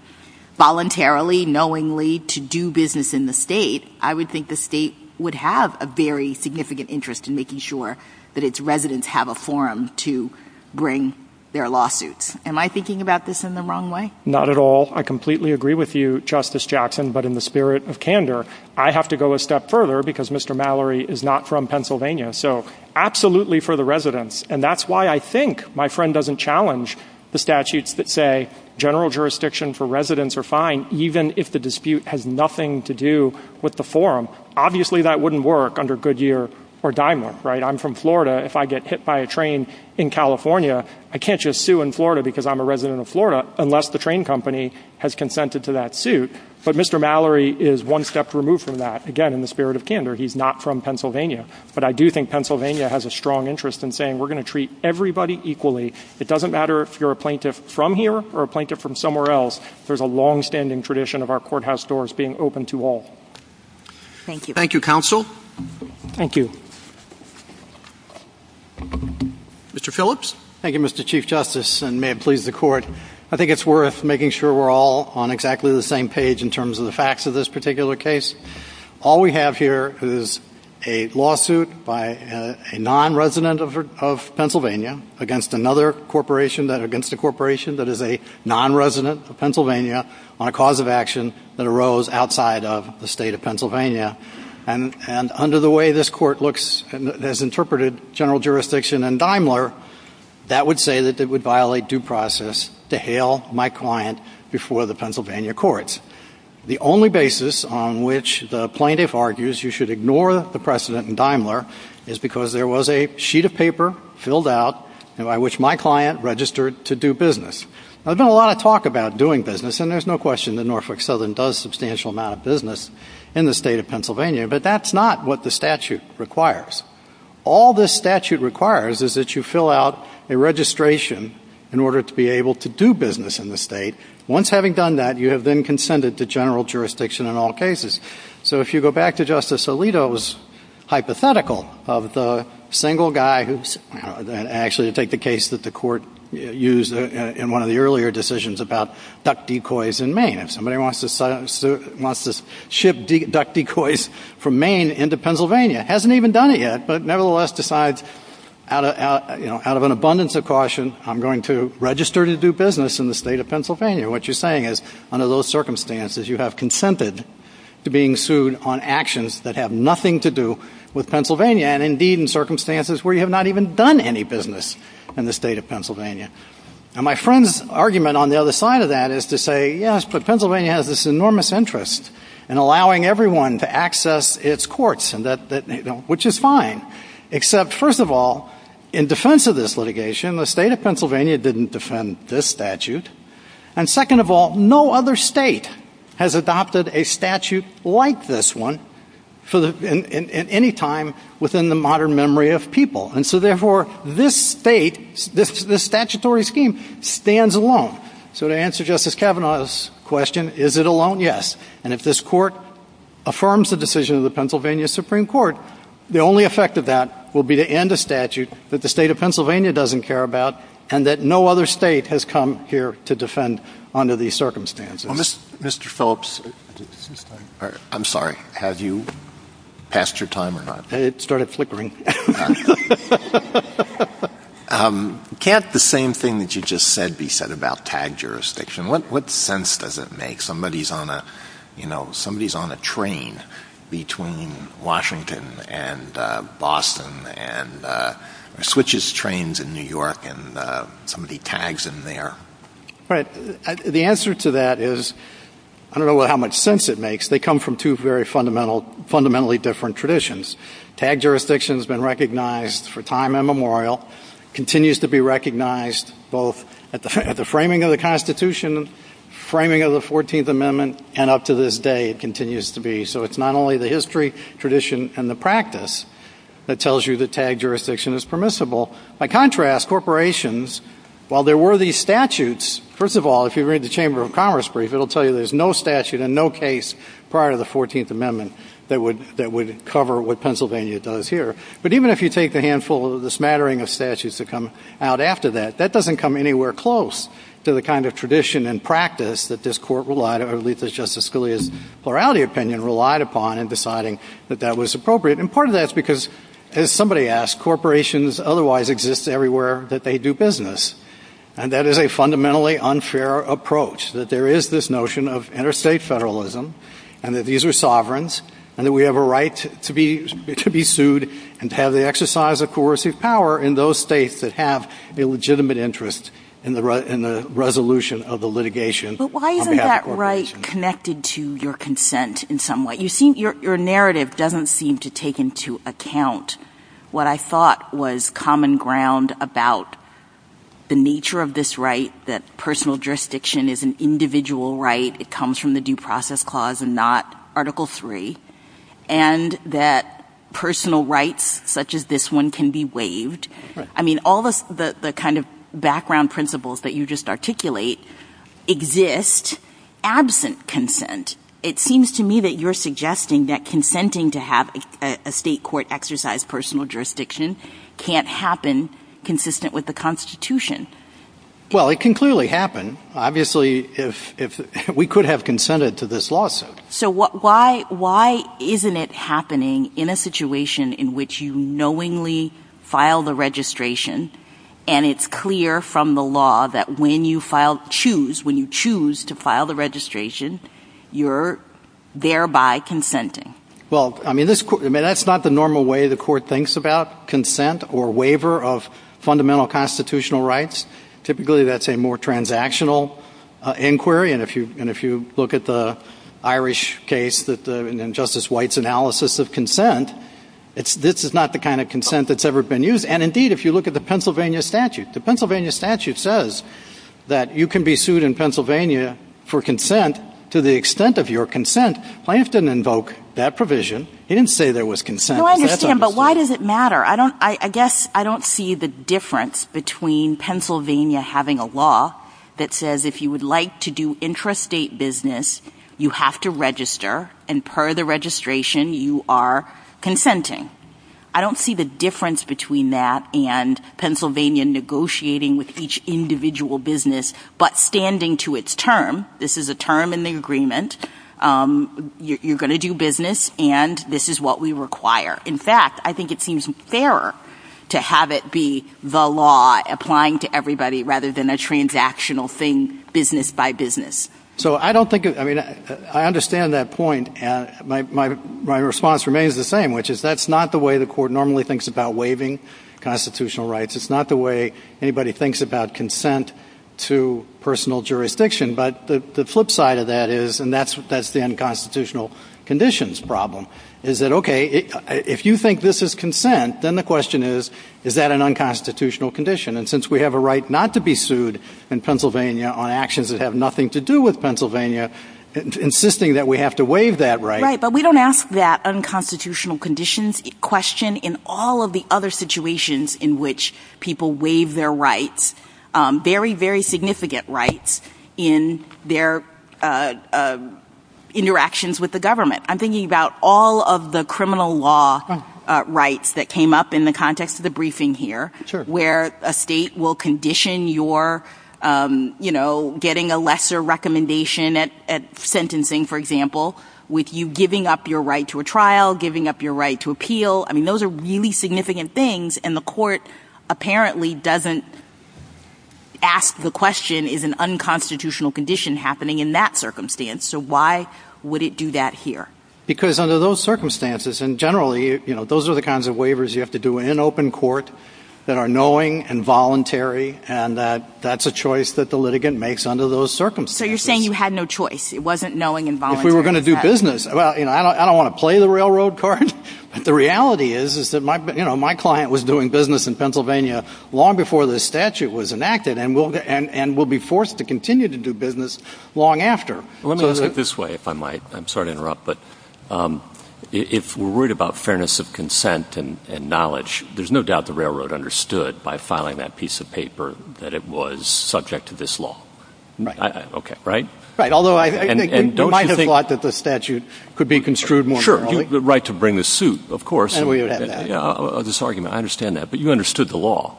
voluntarily, knowingly, to do business in the state, I would think the state would have a very significant interest in making sure that its residents have a forum to bring their lawsuits. Am I thinking about this in the wrong way? Not at all. I completely agree with you, Justice Jackson, but in the spirit of candor, I have to go a step further because Mr. Mallory is not from Pennsylvania. So absolutely for the residents. And that's why I think my friend doesn't challenge the statutes that say general jurisdiction for residents are fine, even if the dispute has nothing to do with the forum. Obviously, that wouldn't work under Goodyear or Daimler, right? I'm from Florida. If I get hit by a train in California, I can't just sue in Florida because I'm a resident of Florida, unless the train company has consented to that suit. But Mr. Mallory is one step removed from that. Again, in the spirit of candor, he's not from Pennsylvania. But I do think Pennsylvania has a strong interest in saying we're going to treat everybody equally. It doesn't matter if you're a plaintiff from here or a plaintiff from somewhere else. There's a longstanding tradition of our courthouse doors being open to all. Thank you. Thank you, counsel. Thank you. Mr. Phillips? Thank you, Mr. Chief Justice, and may it please the court. I think it's worth making sure we're all on exactly the same page in terms of the facts of this particular case. All we have here is a lawsuit by a non-resident of Pennsylvania against another corporation, against a corporation that is a non-resident of Pennsylvania, on a cause of action that arose outside of the state of Pennsylvania. And under the way this court looks and has interpreted general jurisdiction and Daimler, that would say that it would violate due process to hail my client before the Pennsylvania courts. The only basis on which the plaintiff argues you should ignore the precedent in Daimler is because there was a sheet of paper filled out by which my client registered to do business. Now, there's been a lot of talk about doing business, and there's no question that Norfolk Southern does a substantial amount of business in the state of Pennsylvania, but that's not what the statute requires. All this statute requires is that you fill out a registration in order to be able to do business in the state. Once having done that, you have then consented to general jurisdiction in all cases. So if you go back to Justice Alito's hypothetical of the single guy who's actually to take the case that the court used in one of the earlier decisions about duck decoys in Maine, if somebody wants to ship duck decoys from Maine into Pennsylvania, hasn't even done it yet, but nevertheless decides out of an abundance of caution, I'm going to register to do business in the state of Pennsylvania, what you're saying is under those circumstances, you have consented to being sued on actions that have nothing to do with Pennsylvania, and indeed in circumstances where you have not even done any business in the state of Pennsylvania. And my friend's argument on the other side of that is to say, yes, but Pennsylvania has this enormous interest in allowing everyone to access its courts, which is fine, except, first of all, in defense of this litigation, the state of Pennsylvania didn't defend this statute. And second of all, no other state has adopted a statute like this one at any time within the modern memory of people. And so, therefore, this state, this statutory scheme, stands alone. So to answer Justice Kavanaugh's question, is it alone? Yes. And if this court affirms the decision of the Pennsylvania Supreme Court, the only effect of that will be to end a statute that the state of Pennsylvania doesn't care about and that no other state has come here to defend under these circumstances. Mr. Phillips, I'm sorry, have you passed your time? It started flickering. Can't the same thing that you just said be said about tag jurisdiction? What sense does it make? Somebody's on a train between Washington and Boston and switches trains in New York and somebody tags in there. The answer to that is I don't know how much sense it makes. They come from two very fundamentally different traditions. Tag jurisdiction has been recognized for time immemorial, continues to be recognized both at the framing of the Constitution, framing of the 14th Amendment, and up to this day it continues to be. So it's not only the history, tradition, and the practice that tells you that tag jurisdiction is permissible. By contrast, corporations, while there were these statutes, first of all, if you read the Chamber of Commerce brief, it will tell you there's no statute and no case prior to the 14th Amendment that would cover what Pennsylvania does here. But even if you take the handful of the smattering of statutes that come out after that, that doesn't come anywhere close to the kind of tradition and practice that this Court relied on, or at least that Justice Scalia's plurality opinion relied upon in deciding that that was appropriate. And part of that is because, as somebody asked, corporations otherwise exist everywhere that they do business. And that is a fundamentally unfair approach, that there is this notion of interstate federalism, and that these are sovereigns, and that we have a right to be sued and have the exercise of coercive power in those states that have a legitimate interest in the resolution of the litigation. But why isn't that right connected to your consent in some way? Your narrative doesn't seem to take into account what I thought was common ground about the nature of this right, that personal jurisdiction is an individual right, it comes from the Due Process Clause and not Article III, and that personal rights such as this one can be waived. I mean, all the kind of background principles that you just articulate exist absent consent. It seems to me that you're suggesting that consenting to have a state court exercise personal jurisdiction can't happen consistent with the Constitution. Well, it can clearly happen. Obviously, we could have consented to this lawsuit. So why isn't it happening in a situation in which you knowingly file the registration, and it's clear from the law that when you choose to file the registration, you're thereby consenting? Well, I mean, that's not the normal way the court thinks about consent or waiver of fundamental constitutional rights. Typically, that's a more transactional inquiry. And if you look at the Irish case and Justice White's analysis of consent, this is not the kind of consent that's ever been used. And indeed, if you look at the Pennsylvania statute, the Pennsylvania statute says that you can be sued in Pennsylvania for consent to the extent of your consent. I have to invoke that provision. It didn't say there was consent. Well, I understand, but why does it matter? I guess I don't see the difference between Pennsylvania having a law that says if you would like to do intrastate business, you have to register, and per the registration, you are consenting. I don't see the difference between that and Pennsylvania negotiating with each individual business, but standing to its term, this is a term in the agreement. You're going to do business, and this is what we require. In fact, I think it seems fairer to have it be the law applying to everybody rather than a transactional thing, business by business. So I don't think, I mean, I understand that point. My response remains the same, which is that's not the way the Court normally thinks about waiving constitutional rights. It's not the way anybody thinks about consent to personal jurisdiction. But the flip side of that is, and that's the unconstitutional conditions problem, is that, okay, if you think this is consent, then the question is, is that an unconstitutional condition? And since we have a right not to be sued in Pennsylvania on actions that have nothing to do with Pennsylvania, insisting that we have to waive that right. Right, but we don't ask that unconstitutional conditions question in all of the other situations in which people waive their rights, very, very significant rights in their interactions with the government. I'm thinking about all of the criminal law rights that came up in the context of the briefing here, where a state will condition your, you know, getting a lesser recommendation at sentencing, for example, with you giving up your right to a trial, giving up your right to appeal. I mean, those are really significant things, and the Court apparently doesn't ask the question, is an unconstitutional condition happening in that circumstance? So why would it do that here? Because under those circumstances, and generally, you know, those are the kinds of waivers you have to do in an open court that are knowing and voluntary, and that's a choice that the litigant makes under those circumstances. So you're saying you had no choice. It wasn't knowing and voluntary. If we were going to do business, well, you know, I don't want to play the railroad card, but the reality is that my client was doing business in Pennsylvania long before this statute was enacted, and will be forced to continue to do business long after. Let's put it this way, if I might. I'm sorry to interrupt, but if we're worried about fairness of consent and knowledge, there's no doubt the railroad understood by filing that piece of paper that it was subject to this law. Right. Okay, right? Right, although I might have thought that the statute could be construed more morally. Sure, the right to bring the suit, of course. And we would have had that. Yeah, this argument, I understand that, but you understood the law.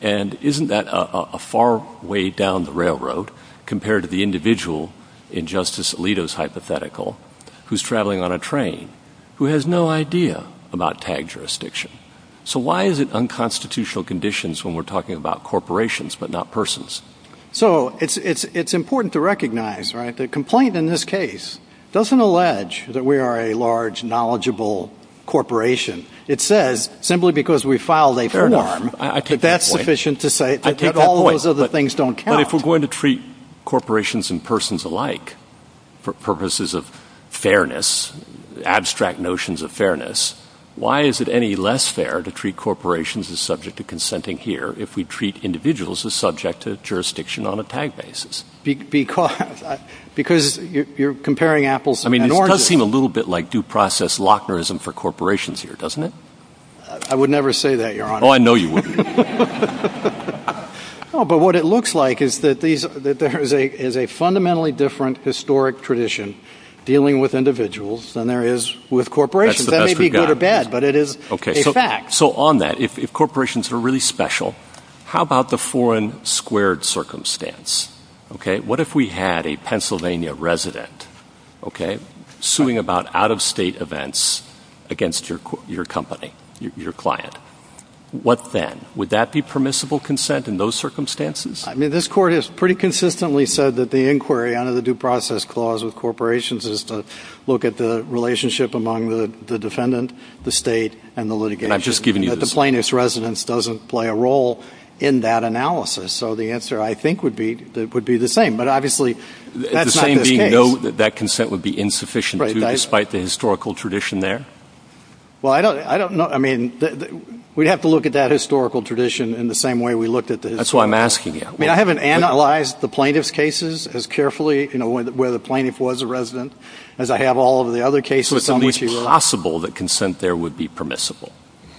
And isn't that a far way down the railroad compared to the individual in Justice Alito's hypothetical who's traveling on a train who has no idea about tag jurisdiction? So why is it unconstitutional conditions when we're talking about corporations but not persons? So it's important to recognize, right, the complaint in this case doesn't allege that we are a large, knowledgeable corporation. It says simply because we filed a form that that's sufficient to say that all those other things don't count. But if we're going to treat corporations and persons alike for purposes of fairness, abstract notions of fairness, why is it any less fair to treat corporations as subject to consenting here if we treat individuals as subject to jurisdiction on a tag basis? Because you're comparing apples to oranges. I mean, it does seem a little bit like due process Lochnerism for corporations here, doesn't it? I would never say that, Your Honor. Oh, I know you wouldn't. Oh, but what it looks like is that there is a fundamentally different historic tradition dealing with individuals than there is with corporations. That may be good or bad, but it is a fact. So on that, if corporations are really special, how about the foreign squared circumstance? OK, what if we had a Pennsylvania resident, OK, suing about out of state events against your company, your client? What then? Would that be permissible consent in those circumstances? I mean, this court has pretty consistently said that the inquiry under the due process clause with corporations is to look at the relationship among the defendant, the state and the litigation. And I've just given you this. That the plaintiff's residence doesn't play a role in that analysis. So the answer, I think, would be that would be the same. But obviously, that's not the case. The same being no, that that consent would be insufficient despite the historical tradition there. Well, I don't I don't know. I mean, we have to look at that historical tradition in the same way we look at this. That's why I'm asking. I haven't analyzed the plaintiff's cases as carefully, you know, whether the plaintiff was a resident, as I have all of the other cases. It's possible that consent there would be permissible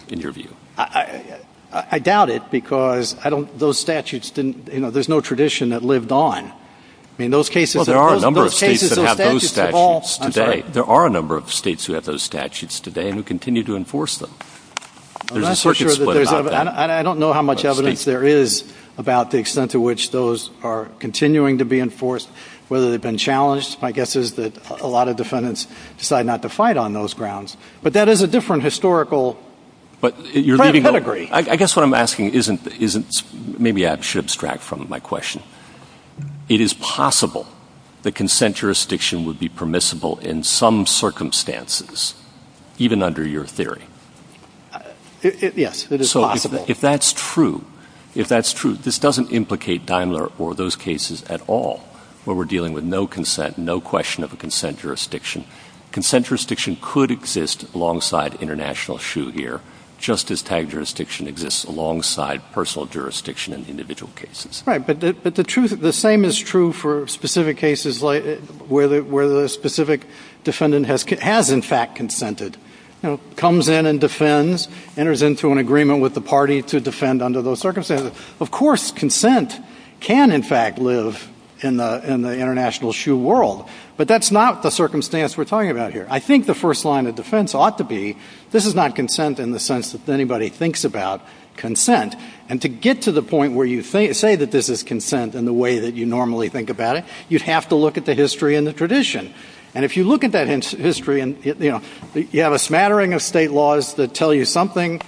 in your view. I doubt it because I don't those statutes didn't you know, there's no tradition that lived on in those cases. There are a number of states that have those statutes today. There are a number of states who have those statutes today and continue to enforce them. I'm not sure that I don't know how much evidence there is about the extent to which those are continuing to be enforced, whether they've been challenged. My guess is that a lot of defendants decide not to fight on those grounds. But that is a different historical. But I guess what I'm asking isn't isn't maybe I should extract from my question. It is possible that consent jurisdiction would be permissible in some circumstances, even under your theory. Yes, it is. So if that's true, if that's true, this doesn't implicate Daimler or those cases at all. Well, we're dealing with no consent, no question of a consent jurisdiction. Consent jurisdiction could exist alongside international shoe here. Justice type jurisdiction exists alongside personal jurisdiction and individual cases. Right. But the truth is the same is true for specific cases where the where the specific defendant has has in fact consented, comes in and defends, enters into an agreement with the party to defend under those circumstances. Of course, consent can, in fact, live in the in the international shoe world. But that's not the circumstance we're talking about here. I think the first line of defense ought to be this is not consent in the sense that anybody thinks about consent. And to get to the point where you say you say that this is consent in the way that you normally think about it, you have to look at the history and the tradition. And if you look at that history and you have a smattering of state laws that tell you something,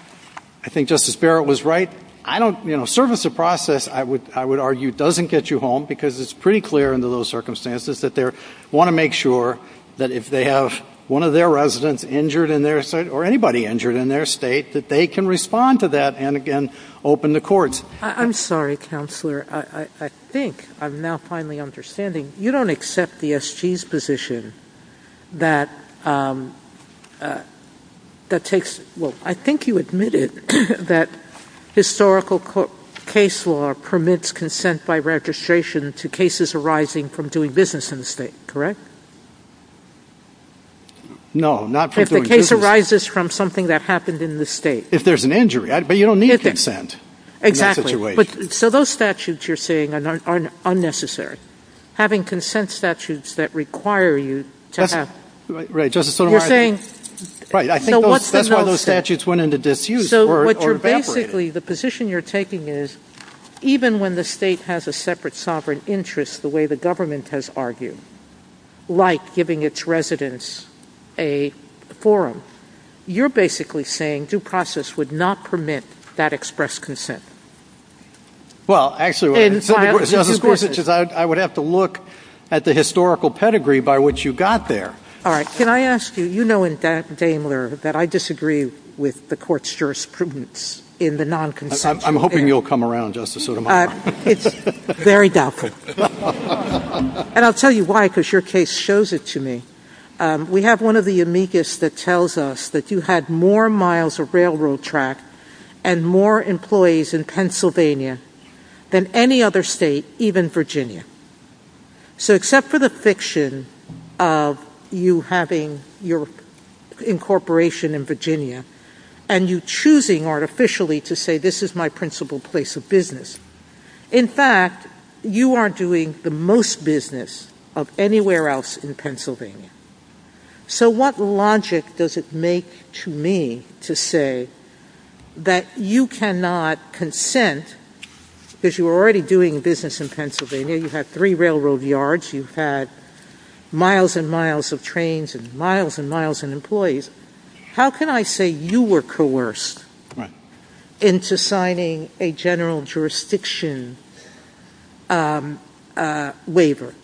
I think Justice Barrett was right. I don't you know, service of process, I would I would argue, doesn't get you home because it's pretty clear under those circumstances that there want to make sure that if they have one of their residents injured in their state or anybody injured in their state, that they can respond to that and again, open the courts. I'm sorry, counselor. I think I'm now finally understanding. You don't accept the S.G.'s position that that takes. Well, I think you admitted that historical case law permits consent by registration to cases arising from doing business in the state, correct? No, not if the case arises from something that happened in the state. If there's an injury, but you don't need consent. Exactly. So those statutes you're saying are unnecessary. Having consent statutes that require you to have. Right. I think that's why those statutes went into disuse. So what you're basically the position you're taking is even when the state has a separate sovereign interest, the way the government has argued, like giving its residents a forum, you're basically saying due process would not permit that express consent. Well, actually, Justice Gorsuch, I would have to look at the historical pedigree by which you got there. All right. Can I ask you, you know in Daimler that I disagree with the court's jurisprudence in the non-consent. I'm hoping you'll come around, Justice Sotomayor. It's very doubtful. And I'll tell you why, because your case shows it to me. We have one of the amicus that tells us that you had more miles of railroad track and more employees in Pennsylvania than any other state, even Virginia. So except for the fiction of you having your incorporation in Virginia and you choosing artificially to say this is my principal place of business, in fact, you are doing the most business of anywhere else in Pennsylvania. So what logic does it make to me to say that you cannot consent, because you were already doing business in Pennsylvania, you had three railroad yards, you had miles and miles of trains and miles and miles of employees. How can I say you were coerced into signing a general jurisdiction waiver?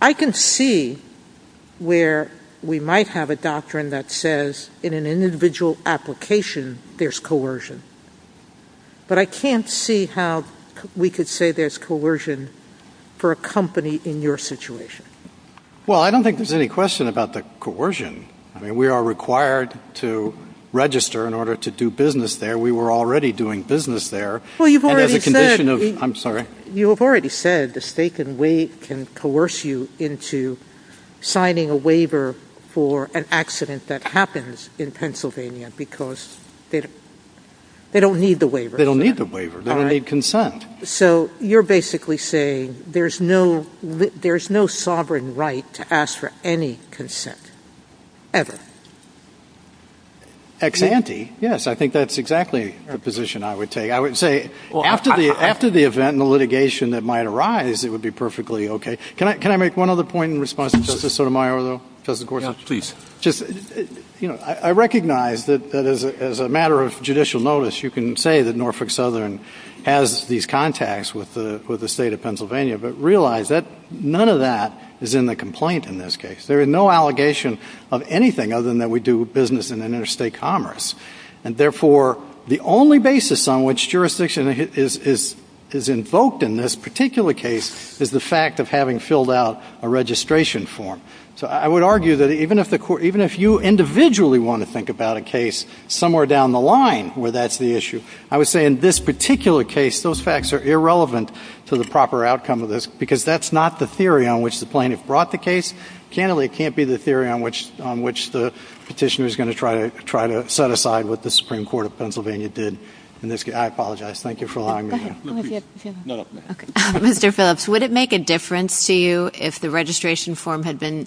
I can see where we might have a doctrine that says in an individual application there's coercion. But I can't see how we could say there's coercion for a company in your situation. Well, I don't think there's any question about the coercion. I mean, we are required to register in order to do business there. We were already doing business there. I'm sorry. You have already said the state can coerce you into signing a waiver for an accident that happens in Pennsylvania because they don't need the waiver. They don't need the waiver. They don't need consent. So you're basically saying there's no sovereign right to ask for any consent ever. Ex ante. Yes, I think that's exactly the position I would take. I would say after the event and the litigation that might arise, it would be perfectly okay. Can I make one other point in response to Justice Sotomayor, though, Justice Gorsuch? Please. I recognize that as a matter of judicial notice, you can say that Norfolk Southern has these contacts with the state of Pennsylvania, but realize that none of that is in the complaint in this case. There is no allegation of anything other than that we do business in interstate commerce. And, therefore, the only basis on which jurisdiction is invoked in this particular case is the fact of having filled out a registration form. So I would argue that even if you individually want to think about a case somewhere down the line where that's the issue, I would say in this particular case those facts are irrelevant to the proper outcome of this because that's not the theory on which the plaintiff brought the case. Candidly, it can't be the theory on which the petitioner is going to try to set aside what the Supreme Court of Pennsylvania did in this case. I apologize. Thank you for allowing me. Mr. Phillips, would it make a difference to you if the registration form had been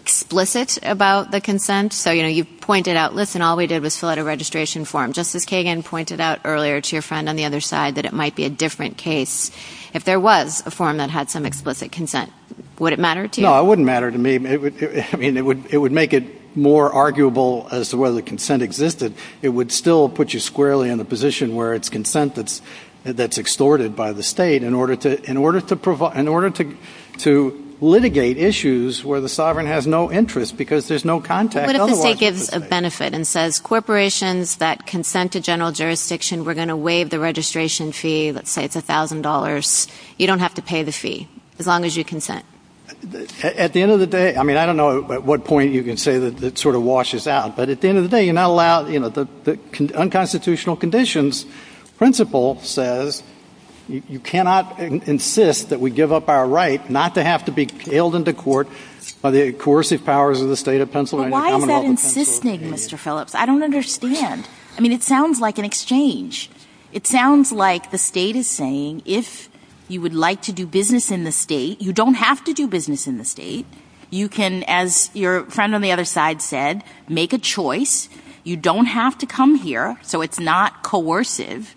explicit about the consent? So, you know, you pointed out, listen, all we did was fill out a registration form. Justice Kagan pointed out earlier to your friend on the other side that it might be a different case if there was a form that had some explicit consent. Would it matter to you? No, it wouldn't matter to me. I mean, it would make it more arguable as to whether the consent existed. It would still put you squarely in a position where it's consent that's extorted by the state in order to litigate issues where the sovereign has no interest because there's no context. What if the state gives a benefit and says corporations that consent to general jurisdiction, we're going to waive the registration fee, let's say it's $1,000. You don't have to pay the fee as long as you consent. At the end of the day, I mean, I don't know at what point you can say that it sort of washes out. But at the end of the day, you're not allowed, you know, the unconstitutional conditions principle says you cannot insist that we give up our right not to have to be hailed into court by the coercive powers of the state of Pennsylvania. Why is that insisting, Mr. Phillips? I don't understand. I mean, it sounds like an exchange. It sounds like the state is saying if you would like to do business in the state, you don't have to do business in the state. You can, as your friend on the other side said, make a choice. You don't have to come here. So it's not coercive.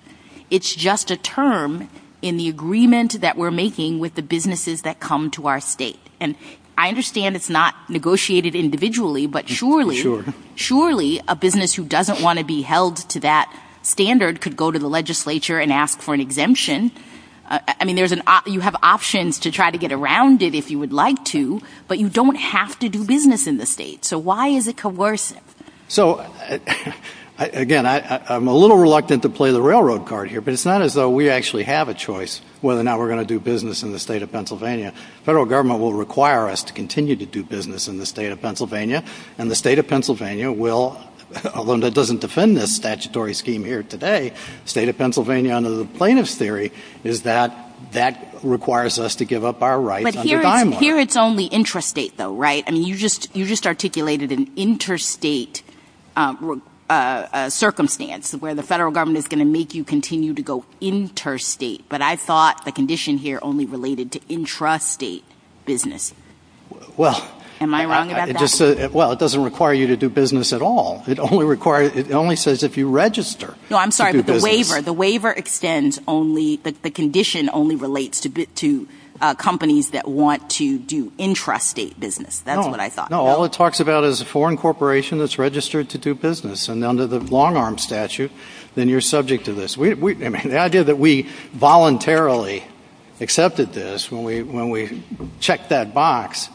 It's just a term in the agreement that we're making with the businesses that come to our state. And I understand it's not negotiated individually, but surely a business who doesn't want to be held to that standard could go to the legislature and ask for an exemption. I mean, you have options to try to get around it if you would like to, but you don't have to do business in the state. So why is it coercive? So, again, I'm a little reluctant to play the railroad card here, but it's not as though we actually have a choice whether or not we're going to do business in the state of Pennsylvania. The federal government will require us to continue to do business in the state of Pennsylvania, and the state of Pennsylvania will, although that doesn't defend this statutory scheme here today, the state of Pennsylvania under the plaintiff's theory is that that requires us to give up our right. But here it's only intrastate, though, right? I mean, you just articulated an intrastate circumstance where the federal government is going to make you continue to go intrastate. But I thought the condition here only related to intrastate business. Am I wrong about that? Well, it doesn't require you to do business at all. The waiver extends only – the condition only relates to companies that want to do intrastate business. That's what I thought. No, all it talks about is a foreign corporation that's registered to do business. And under the long-arm statute, then you're subject to this. I mean, the idea that we voluntarily accepted this when we checked that box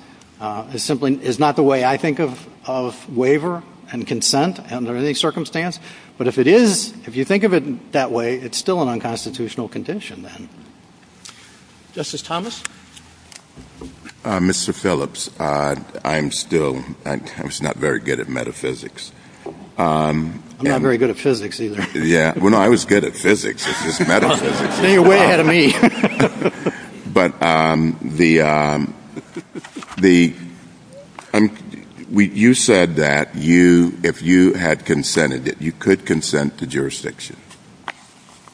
simply is not the way I think of waiver and consent under any circumstance. But if it is, if you think of it that way, it's still an unconstitutional condition then. Justice Thomas? Mr. Phillips, I'm still – I'm just not very good at metaphysics. I'm not very good at physics either. Well, no, I was good at physics. You're way ahead of me. But the – you said that if you had consented it, you could consent to jurisdiction.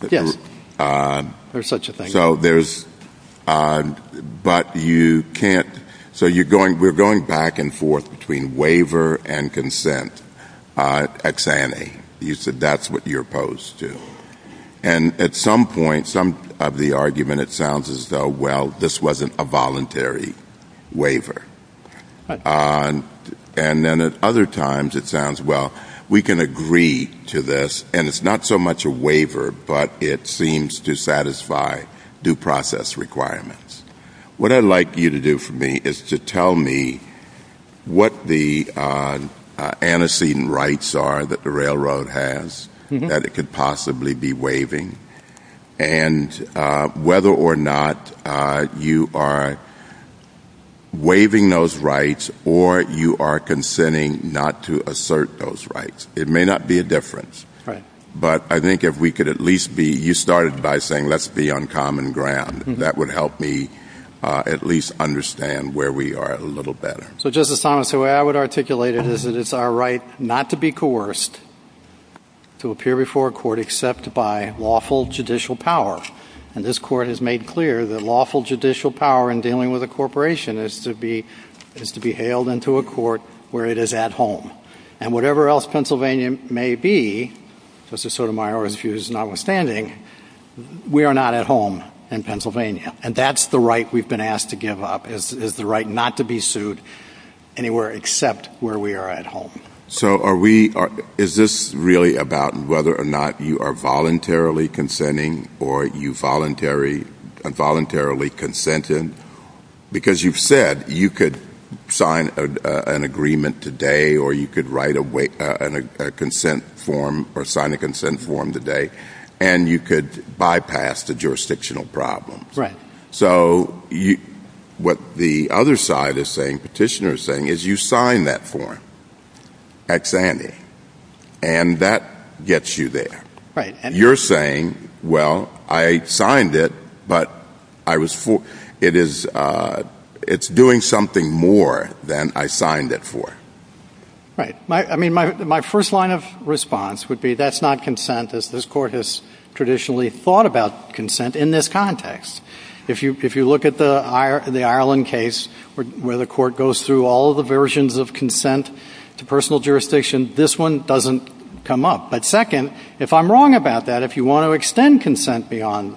Yes. There's such a thing. So there's – but you can't – so you're going – we're going back and forth between waiver and consent. Ex ante. You said that's what you're opposed to. And at some point, some of the argument, it sounds as though, well, this wasn't a voluntary waiver. And then at other times, it sounds, well, we can agree to this, and it's not so much a waiver, but it seems to satisfy due process requirements. What I'd like you to do for me is to tell me what the antecedent rights are that the railroad has that it could possibly be waiving, and whether or not you are waiving those rights or you are consenting not to assert those rights. It may not be a difference. But I think if we could at least be – you started by saying let's be on common ground. That would help me at least understand where we are a little better. So, Justice Thomas, the way I would articulate it is that it's our right not to be coerced to appear before a court except by lawful judicial power. And this court has made clear that lawful judicial power in dealing with a corporation is to be hailed into a court where it is at home. And whatever else Pennsylvania may be, just to sort of my own views notwithstanding, we are not at home in Pennsylvania. And that's the right we've been asked to give up, is the right not to be sued anywhere except where we are at home. So, is this really about whether or not you are voluntarily consenting or you voluntarily consented? Because you've said you could sign an agreement today or you could write a consent form or sign a consent form today, and you could bypass the jurisdictional problem. So, what the other side is saying, petitioner is saying, is you sign that form at Sandy, and that gets you there. You're saying, well, I signed it, but it's doing something more than I signed it for. Right. I mean, my first line of response would be that's not consent. This court has traditionally thought about consent in this context. If you look at the Ireland case where the court goes through all the versions of consent to personal jurisdiction, this one doesn't come up. But second, if I'm wrong about that, if you want to extend consent beyond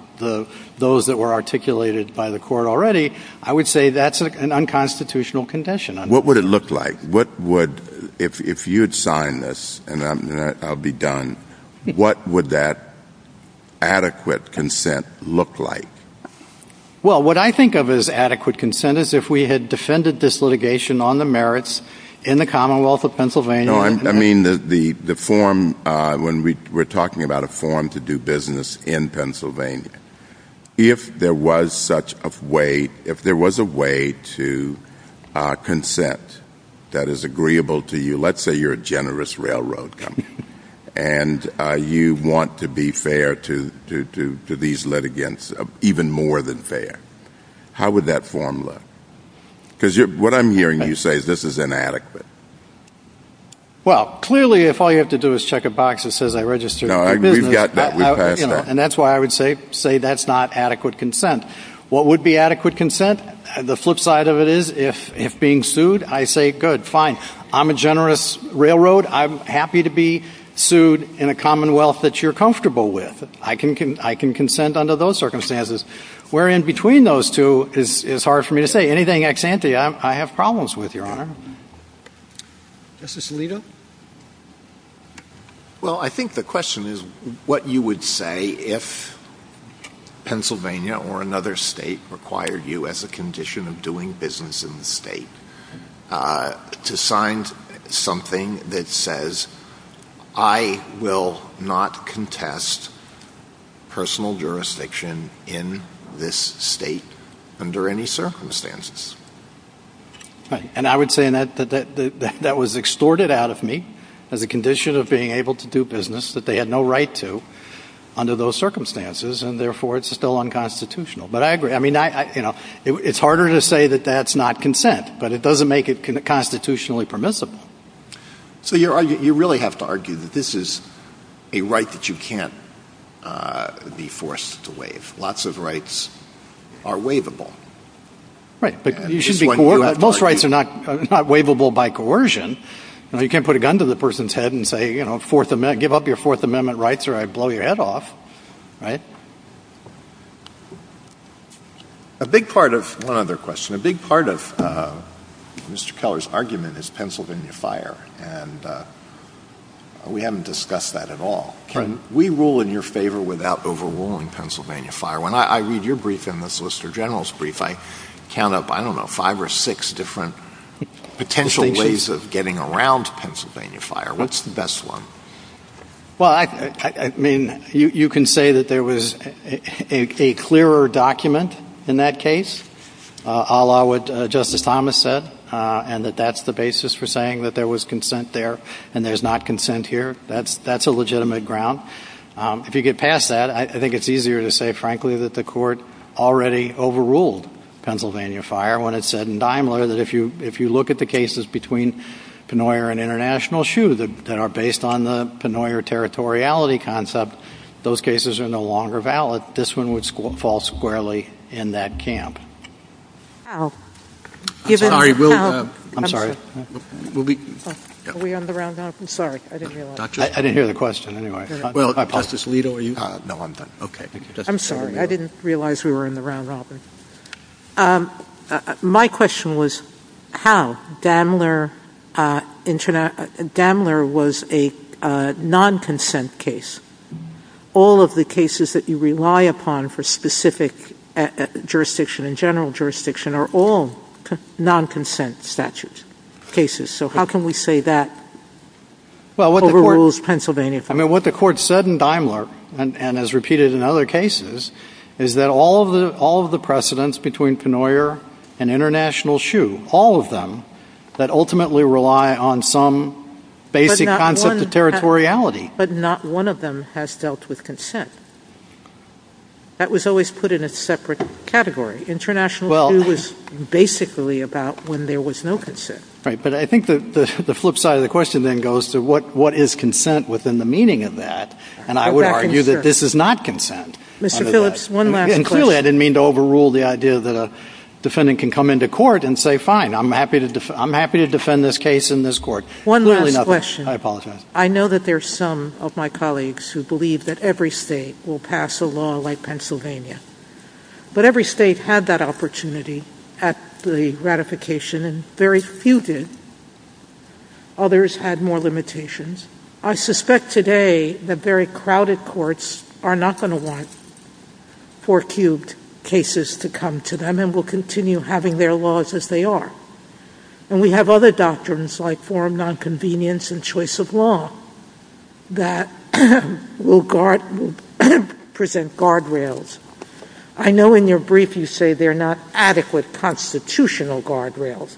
those that were articulated by the court already, I would say that's an unconstitutional condition. What would it look like? If you had signed this, and I'll be done, what would that adequate consent look like? Well, what I think of as adequate consent is if we had defended this litigation on the merits in the Commonwealth of Pennsylvania. I mean, when we're talking about a form to do business in Pennsylvania, if there was a way to consent that is agreeable to you, let's say you're a generous railroad company, and you want to be fair to these litigants, even more than fair, how would that form look? Because what I'm hearing you say is this is inadequate. Well, clearly if all you have to do is check a box that says I registered for business, and that's why I would say that's not adequate consent. What would be adequate consent? The flip side of it is if being sued, I say, good, fine, I'm a generous railroad. I'm happy to be sued in a commonwealth that you're comfortable with. I can consent under those circumstances. Where in between those two, it's hard for me to say. Anything ex ante, I have problems with, Your Honor. Justice Alito? Well, I think the question is what you would say if Pennsylvania or another state required you as a condition of doing business in the state to sign something that says I will not contest personal jurisdiction in this state under any circumstances. And I would say that was extorted out of me as a condition of being able to do business that they had no right to under those circumstances, and therefore it's still unconstitutional. But I agree. It's harder to say that that's not consent, but it doesn't make it constitutionally permissible. So you really have to argue that this is a right that you can't be forced to waive. Lots of rights are waivable. Right. Most rights are not waivable by coercion. You can't put a gun to the person's head and say give up your Fourth Amendment rights or I blow your head off. A big part of Mr. Keller's argument is Pennsylvania Fire. We haven't discussed that at all. We rule in your favor without overruling Pennsylvania Fire. When I read your brief and the Solicitor General's brief, I count up, I don't know, five or six different potential ways of getting around Pennsylvania Fire. What's the best one? Well, I mean, you can say that there was a clearer document in that case, a la what Justice Thomas said, and that that's the basis for saying that there was consent there and there's not consent here. That's a legitimate ground. If you get past that, I think it's easier to say, frankly, that the court already overruled Pennsylvania Fire when it said in Daimler that if you look at the cases between Pennoyer and International Shoe that are based on the Pennoyer territoriality concept, those cases are no longer valid. This one would fall squarely in that camp. I'm sorry. Are we on the round-up? I'm sorry. I didn't hear the question. Well, Justice Lito, are you? No, I'm done. Okay. I'm sorry. I didn't realize we were on the round-up. My question was how? Daimler was a non-consent case. All of the cases that you rely upon for specific jurisdiction and general jurisdiction are all non-consent statutes, cases. So how can we say that overrules Pennsylvania Fire? I mean, what the court said in Daimler, and as repeated in other cases, is that all of the precedents between Pennoyer and International Shoe, all of them, that ultimately rely on some basic concept of territoriality. But not one of them has dealt with consent. That was always put in a separate category. International Shoe was basically about when there was no consent. Right, but I think the flip side of the question then goes to what is consent within the meaning of that, and I would argue that this is not consent. Mr. Phillips, one last question. Clearly, I didn't mean to overrule the idea that a defendant can come into court and say, fine, I'm happy to defend this case in this court. One last question. Hi, Paula Smith. I know that there are some of my colleagues who believe that every state will pass a law like Pennsylvania, but every state had that opportunity at the ratification, and very few did. Others had more limitations. I suspect today that very crowded courts are not going to want four-cubed cases to come to them and will continue having their laws as they are. And we have other doctrines like forum nonconvenience and choice of law that will present guardrails. I know in your brief you say they're not adequate constitutional guardrails,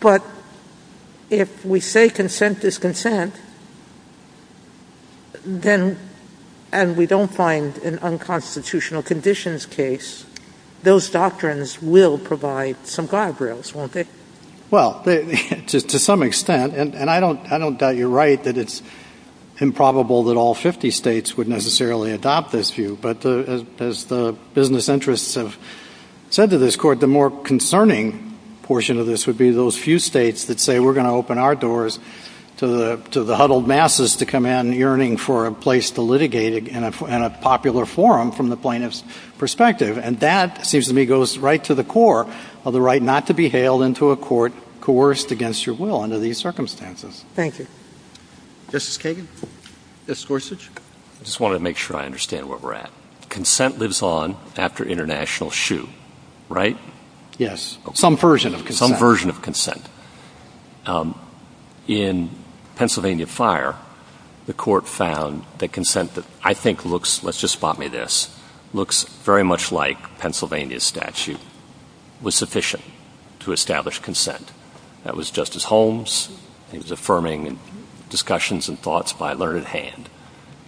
but if we say consent is consent and we don't find an unconstitutional conditions case, those doctrines will provide some guardrails, won't they? Well, to some extent, and I don't doubt you're right that it's improbable that all 50 states would necessarily adopt this view, but as the business interests have said to this court, the more concerning portion of this would be those few states that say we're going to open our doors to the huddled masses to come in yearning for a place to litigate in a popular forum from the plaintiff's perspective. And that, it seems to me, goes right to the core of the right not to be hailed into a court coerced against your will under these circumstances. Thank you. Justice Kagan? Justice Gorsuch? I just wanted to make sure I understand where we're at. Consent lives on after international shoe, right? Yes. Some version of consent. Some version of consent. In Pennsylvania Fire, the court found that consent that I think looks, let's just spot me this, looks very much like Pennsylvania statute was sufficient to establish consent. That was Justice Holmes. He was affirming discussions and thoughts by learned hand.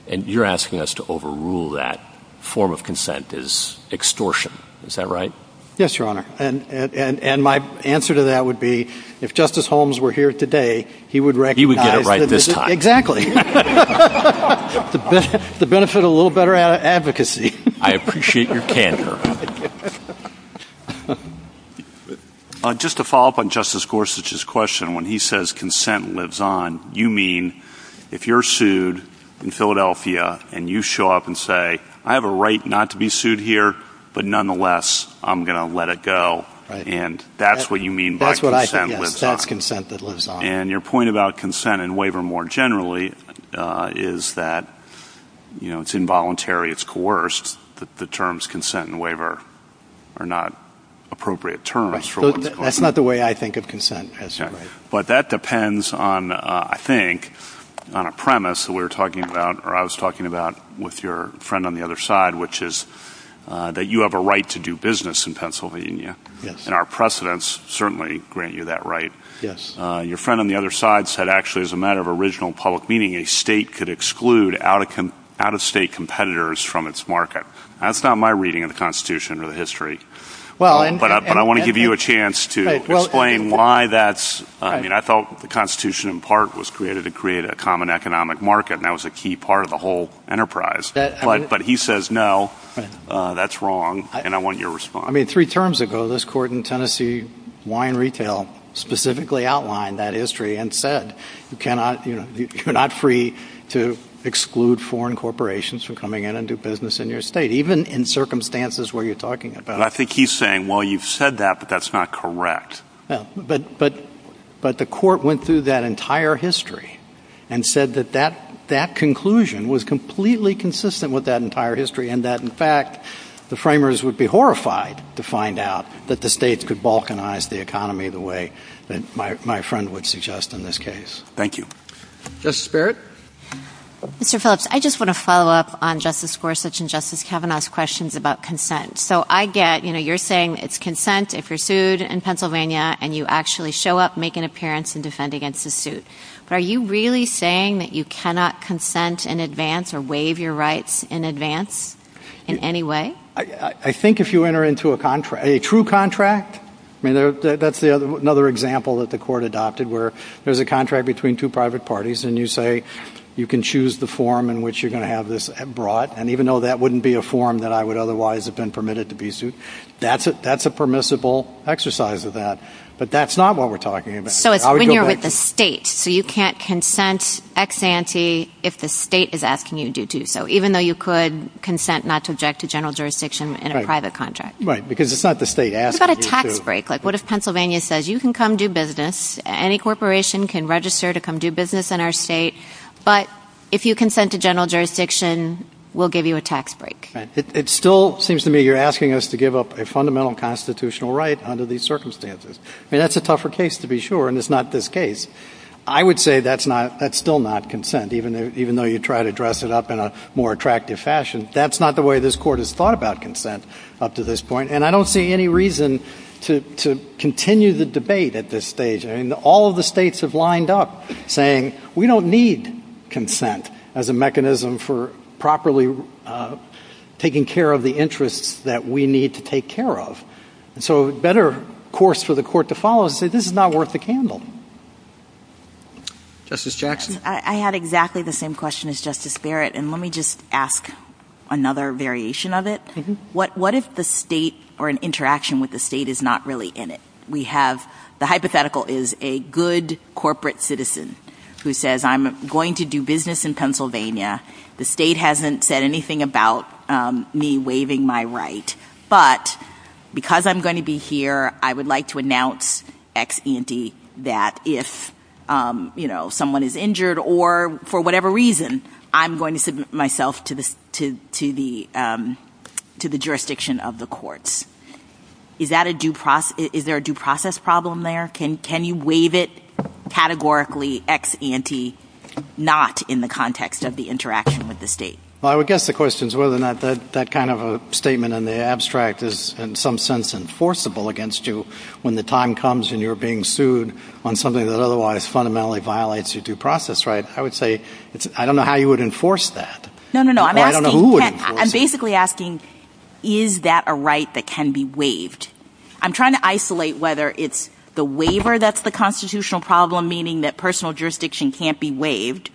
And you're asking us to overrule that form of consent as extortion. Is that right? Yes, Your Honor. And my answer to that would be if Justice Holmes were here today, he would recognize that. He would get it right this time. Exactly. The benefit of a little better advocacy. I appreciate your candor. Just to follow up on Justice Gorsuch's question, when he says consent lives on, you mean if you're sued in Philadelphia and you show up and say, I have a right not to be sued here, but nonetheless, I'm going to let it go. And that's what you mean by consent lives on. That's what I think, yes. That's consent that lives on. And your point about consent and waiver more generally is that it's involuntary, it's coerced. The terms consent and waiver are not appropriate terms. That's not the way I think of consent. But that depends on, I think, on a premise that we were talking about or I was talking about with your friend on the other side, which is that you have a right to do business in Pennsylvania. And our precedents certainly grant you that right. Your friend on the other side said, actually, as a matter of original public meeting, a state could exclude out-of-state competitors from its market. That's not my reading of the Constitution or the history. But I want to give you a chance to explain why that's – I mean, I felt the Constitution in part was created to create a common economic market, and that was a key part of the whole enterprise. But he says no, that's wrong, and I want your response. I mean, three terms ago, this court in Tennessee, Wine Retail, specifically outlined that history and said you're not free to exclude foreign corporations from coming in and do business in your state, even in circumstances where you're talking about – But I think he's saying, well, you've said that, but that's not correct. But the court went through that entire history and said that that conclusion was completely consistent with that entire history and that, in fact, the framers would be horrified to find out that the states could balkanize the economy the way that my friend would suggest in this case. Thank you. Justice Barrett? Mr. Phillips, I just want to follow up on Justice Gorsuch and Justice Kavanaugh's questions about consent. So I get, you know, you're saying it's consent if you're sued in Pennsylvania and you actually show up, make an appearance, and defend against the suit. Are you really saying that you cannot consent in advance or waive your rights in advance in any way? I think if you enter into a contract – a true contract – I mean, that's another example that the court adopted where there's a contract between two private parties and you say you can choose the form in which you're going to have this brought. And even though that wouldn't be a form that I would otherwise have been permitted to be sued, that's a permissible exercise of that. But that's not what we're talking about. So it's when you're with the state. So you can't consent ex ante if the state is asking you to do so, even though you could consent not to object to general jurisdiction in a private contract. Right, because it's not the state asking you to. What about a tax break? Like what if Pennsylvania says you can come do business, any corporation can register to come do business in our state, but if you consent to general jurisdiction, we'll give you a tax break. It still seems to me you're asking us to give up a fundamental constitutional right under these circumstances. I mean, that's a tougher case to be sure, and it's not this case. I would say that's still not consent, even though you try to dress it up in a more attractive fashion. That's not the way this court has thought about consent up to this point, and I don't see any reason to continue the debate at this stage. I mean, all of the states have lined up saying we don't need consent as a mechanism for properly taking care of the interests that we need to take care of. And so a better course for the court to follow is to say this is not worth the candle. Justice Jackson? I had exactly the same question as Justice Barrett, and let me just ask another variation of it. What if the state or an interaction with the state is not really in it? We have the hypothetical is a good corporate citizen who says I'm going to do business in Pennsylvania. The state hasn't said anything about me waiving my right, but because I'm going to be here I would like to announce ex ante that if someone is injured or for whatever reason I'm going to submit myself to the jurisdiction of the courts. Is there a due process problem there? Can you waive it categorically ex ante not in the context of the interaction with the state? Well, I would guess the question is whether or not that kind of a statement in the abstract is in some sense enforceable against you when the time comes and you're being sued on something that otherwise fundamentally violates your due process right. I would say I don't know how you would enforce that. No, no, no. I'm basically asking is that a right that can be waived? I'm trying to isolate whether it's the waiver that's the constitutional problem, meaning that personal jurisdiction can't be waived,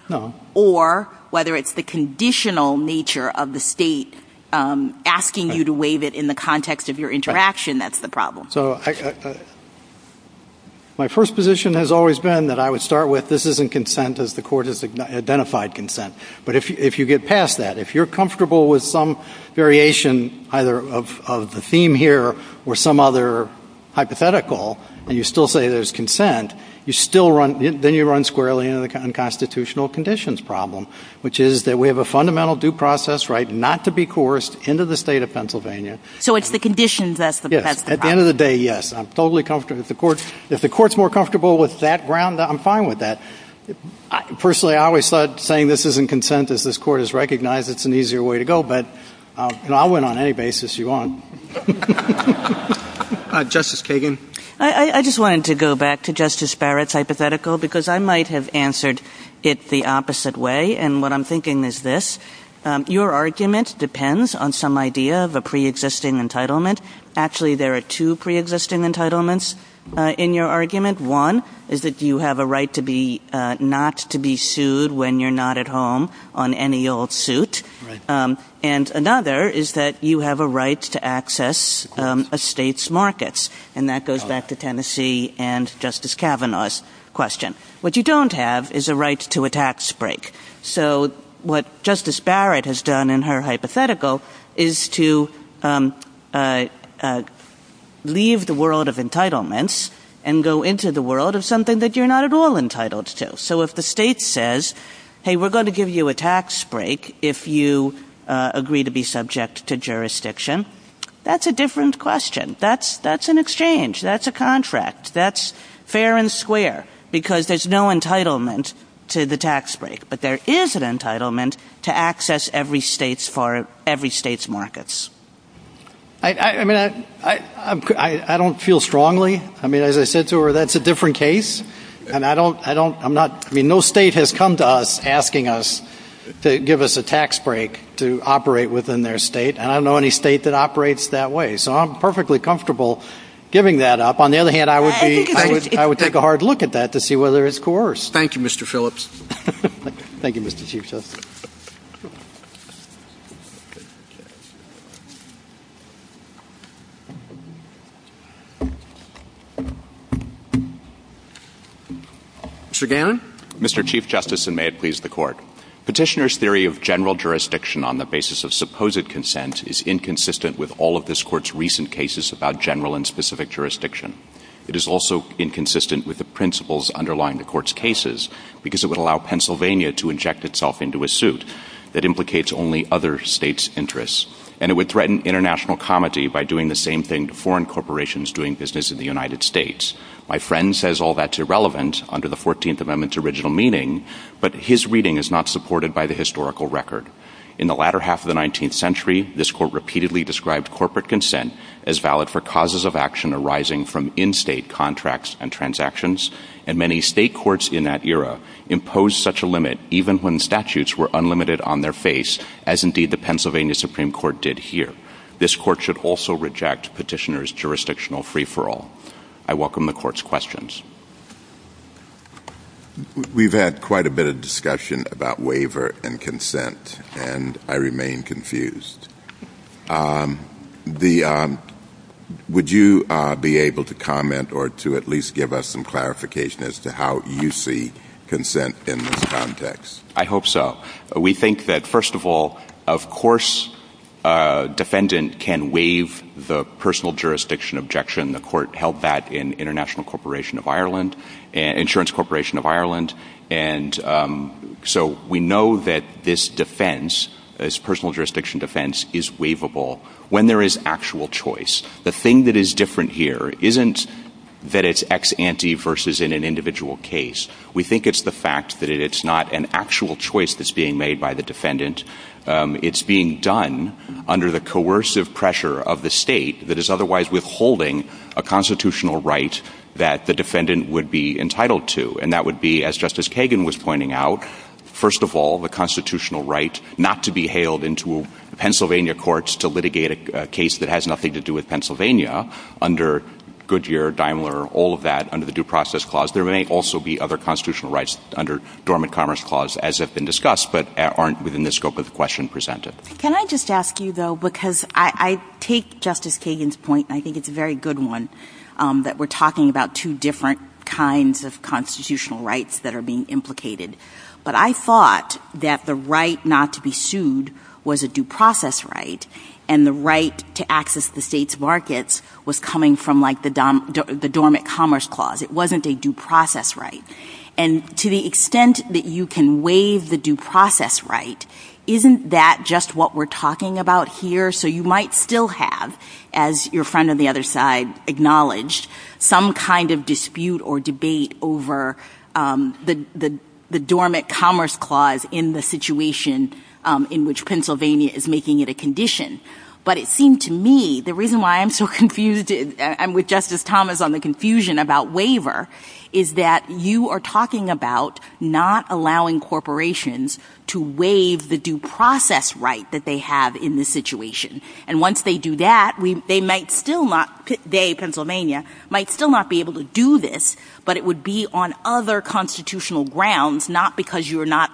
or whether it's the conditional nature of the state asking you to waive it in the context of your interaction that's the problem. So my first position has always been that I would start with this isn't consent as the court has identified consent, but if you get past that, if you're comfortable with some variation either of the theme here or some other hypothetical and you still say there's consent, then you run squarely into the unconstitutional conditions problem, which is that we have a fundamental due process right not to be coerced into the state of Pennsylvania. So it's the conditions that's the problem. At the end of the day, yes. I'm totally comfortable with the court. If the court's more comfortable with that ground, I'm fine with that. Personally, I always start saying this isn't consent as this court has recognized it's an easier way to go, but I'll win on any basis you want. Justice Kagan? I just wanted to go back to Justice Barrett's hypothetical because I might have answered it the opposite way, and what I'm thinking is this. Your argument depends on some idea of a preexisting entitlement. Actually, there are two preexisting entitlements in your argument. One is that you have a right not to be sued when you're not at home on any old suit, and another is that you have a right to access a state's markets, and that goes back to Tennessee and Justice Kavanaugh's question. What you don't have is a right to a tax break. So what Justice Barrett has done in her hypothetical is to leave the world of entitlements and go into the world of something that you're not at all entitled to. So if the state says, hey, we're going to give you a tax break if you agree to be subject to jurisdiction, that's a different question. That's an exchange. That's a contract. That's fair and square because there's no entitlement to the tax break, but there is an entitlement to access every state's markets. I mean, I don't feel strongly. I mean, as I said to her, that's a different case. I mean, no state has come to us asking us to give us a tax break to operate within their state, and I don't know any state that operates that way. So I'm perfectly comfortable giving that up. On the other hand, I would take a hard look at that to see whether it's coerced. Thank you, Mr. Phillips. Thank you, Mr. Chief Justice. Mr. Gannon? Petitioner's theory of general jurisdiction on the basis of supposed consent is inconsistent with all of this court's recent cases about general and specific jurisdiction. It is also inconsistent with the principles underlying the court's cases because it would allow Pennsylvania to inject itself into a suit that implicates only other states' interests, and it would threaten international comity by doing the same thing to foreign corporations doing business in the United States. My friend says all that's irrelevant under the 14th Amendment's original meaning, but his reading is not supported by the historical record. In the latter half of the 19th century, this court repeatedly described corporate consent as valid for causes of action arising from in-state contracts and transactions, and many state courts in that era imposed such a limit even when statutes were unlimited on their face, as indeed the Pennsylvania Supreme Court did here. This court should also reject petitioner's jurisdictional free-for-all. I welcome the court's questions. We've had quite a bit of discussion about waiver and consent, and I remain confused. Would you be able to comment or to at least give us some clarification as to how you see consent in this context? I hope so. We think that, first of all, of course a defendant can waive the personal jurisdiction objection. The court held that in Insurance Corporation of Ireland, and so we know that this defense, this personal jurisdiction defense, is waivable when there is actual choice. The thing that is different here isn't that it's ex ante versus in an individual case. We think it's the fact that it's not an actual choice that's being made by the defendant. It's being done under the coercive pressure of the state that is otherwise withholding a constitutional right that the defendant would be entitled to, and that would be, as Justice Kagan was pointing out, first of all, the constitutional right not to be hailed into Pennsylvania courts to litigate a case that has nothing to do with Pennsylvania under Goodyear, Daimler, all of that, under the Due Process Clause. There may also be other constitutional rights under Dormant Commerce Clause, as have been discussed, but aren't within the scope of the question presented. Can I just ask you, though, because I take Justice Kagan's point, and I think it's a very good one, that we're talking about two different kinds of constitutional rights that are being implicated, but I thought that the right not to be sued was a due process right, and the right to access the state's markets was coming from, like, the Dormant Commerce Clause. It wasn't a due process right. And to the extent that you can waive the due process right, isn't that just what we're talking about here? So you might still have, as your friend on the other side acknowledged, some kind of dispute or debate over the Dormant Commerce Clause in the situation in which Pennsylvania is making it a condition. But it seemed to me, the reason why I'm so confused, and with Justice Thomas on the confusion about waiver, is that you are talking about not allowing corporations to waive the due process right that they have in this situation. And once they do that, they might still not, today Pennsylvania, might still not be able to do this, but it would be on other constitutional grounds, not because you are not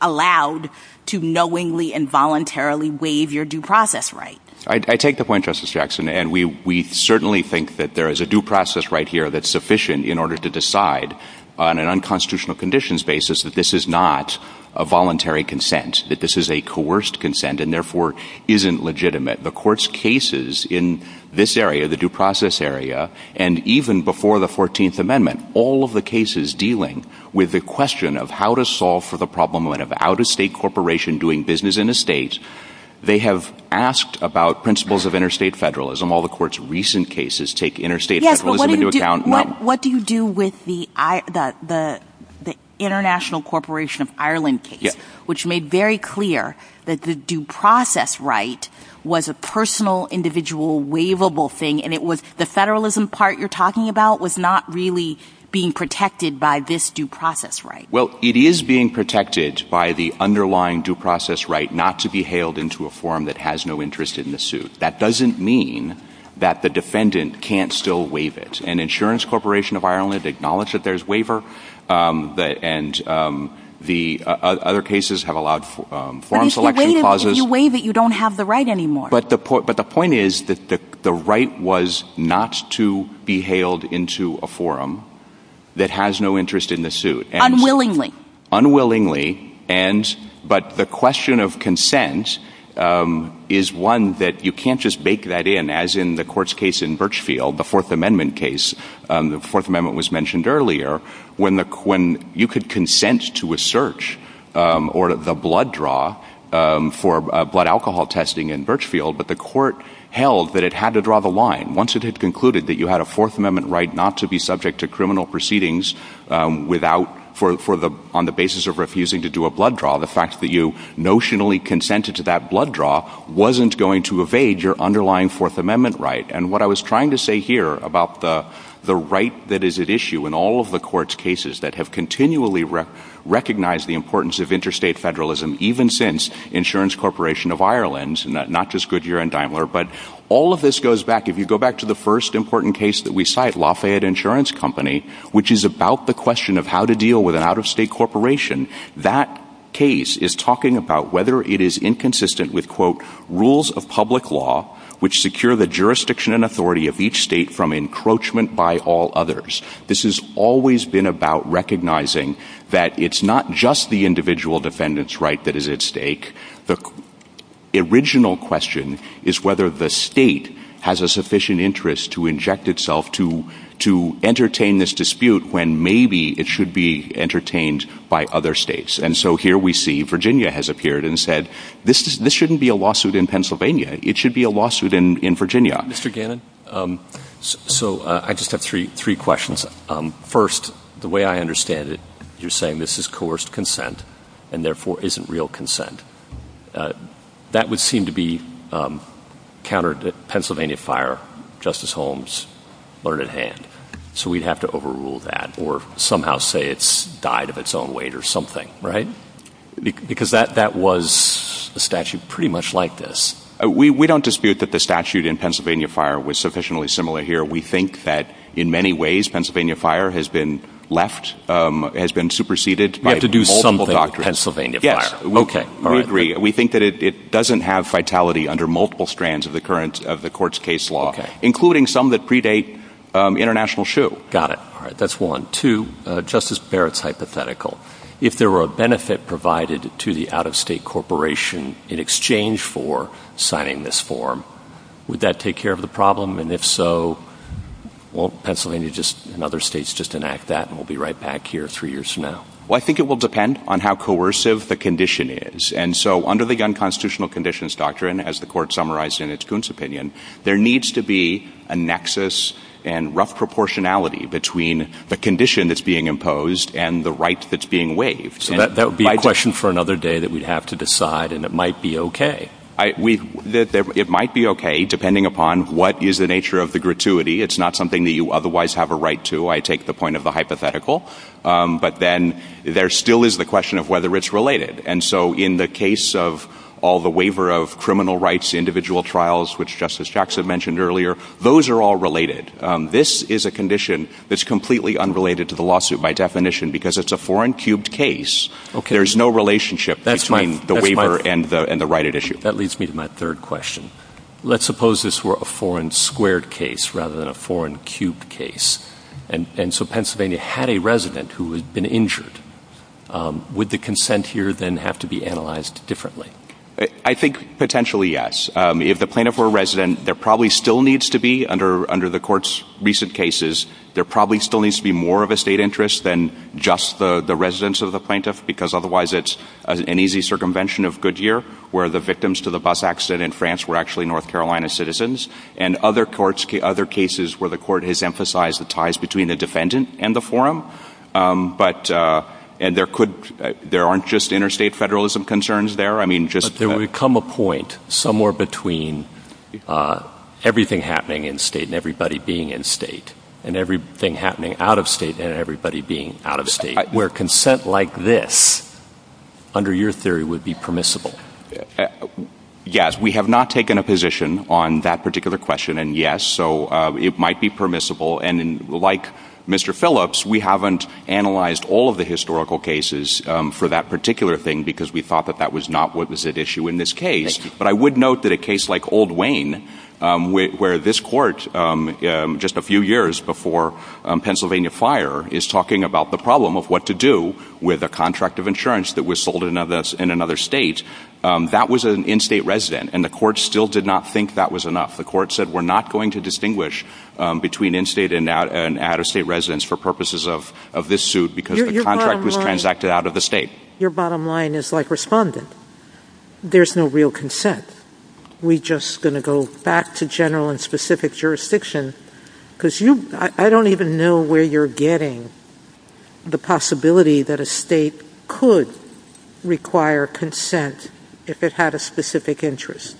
allowed to knowingly and voluntarily waive your due process right. I take the point, Justice Jackson, and we certainly think that there is a due process right here that's sufficient in order to decide, on an unconstitutional conditions basis, that this is not a voluntary consent, that this is a coerced consent, and therefore isn't legitimate. The Court's cases in this area, the due process area, and even before the 14th Amendment, all of the cases dealing with the question of how to solve for the problem of an out-of-state corporation doing business in the States, they have asked about principles of interstate federalism. All the Court's recent cases take interstate federalism into account. Yes, but what do you do with the International Corporation of Ireland case, which made very clear that the due process right was a personal, individual, waivable thing, and the federalism part you're talking about was not really being protected by this due process right? Well, it is being protected by the underlying due process right not to be hailed into a form that has no interest in the suit. That doesn't mean that the defendant can't still waive it, and Insurance Corporation of Ireland acknowledged that there's waiver, and other cases have allowed form selection clauses. But if you waive it, you don't have the right anymore. But the point is that the right was not to be hailed into a forum that has no interest in the suit. Unwillingly. Unwillingly, but the question of consent is one that you can't just bake that in, as in the Court's case in Birchfield, the Fourth Amendment case. The Fourth Amendment was mentioned earlier. When you could consent to a search, or the blood draw, for blood alcohol testing in Birchfield, but the court held that it had to draw the line. Once it had concluded that you had a Fourth Amendment right not to be subject to criminal proceedings, on the basis of refusing to do a blood draw, the fact that you notionally consented to that blood draw wasn't going to evade your underlying Fourth Amendment right. And what I was trying to say here about the right that is at issue in all of the Court's cases that have continually recognized the importance of interstate federalism, even since Insurance Corporation of Ireland, not just Goodyear and Daimler, but all of this goes back, if you go back to the first important case that we cite, Lafayette Insurance Company, which is about the question of how to deal with an out-of-state corporation. That case is talking about whether it is inconsistent with, quote, which secure the jurisdiction and authority of each state from encroachment by all others. This has always been about recognizing that it's not just the individual defendant's right that is at stake. The original question is whether the state has a sufficient interest to inject itself to entertain this dispute when maybe it should be entertained by other states. And so here we see Virginia has appeared and said, this shouldn't be a lawsuit in Pennsylvania. It should be a lawsuit in Virginia. Mr. Gannon, so I just have three questions. First, the way I understand it, you're saying this is coerced consent and therefore isn't real consent. That would seem to be counter to the Pennsylvania fire Justice Holmes learned at hand. So we'd have to overrule that or somehow say it's died of its own weight or something, right? Because that was the statute pretty much like this. We don't dispute that the statute in Pennsylvania fire was sufficiently similar here. We think that in many ways, Pennsylvania fire has been left, has been superseded. We have to do something with Pennsylvania fire. Yes, we agree. We think that it doesn't have vitality under multiple strands of the current of the court's case law, including some that predate international shoe. Got it. That's one. Two, Justice Barrett's hypothetical. If there were a benefit provided to the out-of-state corporation in exchange for signing this form, would that take care of the problem? And if so, won't Pennsylvania just and other states just enact that? And we'll be right back here three years from now. Well, I think it will depend on how coercive the condition is. And so under the gun constitutional conditions doctrine, as the court summarized in its Goon's opinion, there needs to be a nexus and rough proportionality between the condition that's being imposed and the right that's being waived. That would be a question for another day that we'd have to decide, and it might be OK. It might be OK, depending upon what is the nature of the gratuity. It's not something that you otherwise have a right to, I take the point of the hypothetical. But then there still is the question of whether it's related. And so in the case of all the waiver of criminal rights, individual trials, which Justice Jackson mentioned earlier, those are all related. This is a condition that's completely unrelated to the lawsuit. By definition, because it's a four-and-cubed case, there's no relationship between the waiver and the right at issue. That leads me to my third question. Let's suppose this were a four-and-squared case rather than a four-and-cubed case. And so Pennsylvania had a resident who had been injured. Would the consent here then have to be analyzed differently? I think potentially yes. If the plaintiff were a resident, there probably still needs to be, under the court's recent cases, there probably still needs to be more of a state interest than just the residents of the plaintiff, because otherwise it's an easy circumvention of Goodyear, where the victims to the bus accident in France were actually North Carolina citizens, and other cases where the court has emphasized the ties between the defendant and the forum. And there aren't just interstate federalism concerns there. But there would come a point somewhere between everything happening in state and everybody being in state, and everything happening out of state and everybody being out of state, where consent like this, under your theory, would be permissible. Yes, we have not taken a position on that particular question in yes, so it might be permissible. And like Mr. Phillips, we haven't analyzed all of the historical cases for that particular thing, because we thought that that was not what was at issue in this case. But I would note that a case like Old Wayne, where this court, just a few years before Pennsylvania fire, is talking about the problem of what to do with a contract of insurance that was sold in another state, that was an in-state resident, and the court still did not think that was enough. The court said we're not going to distinguish between in-state and out-of-state residents for purposes of this suit, because the contract was transacted out of the state. Your bottom line is like respondent. There's no real consent. We're just going to go back to general and specific jurisdiction, because I don't even know where you're getting the possibility that a state could require consent if it had a specific interest.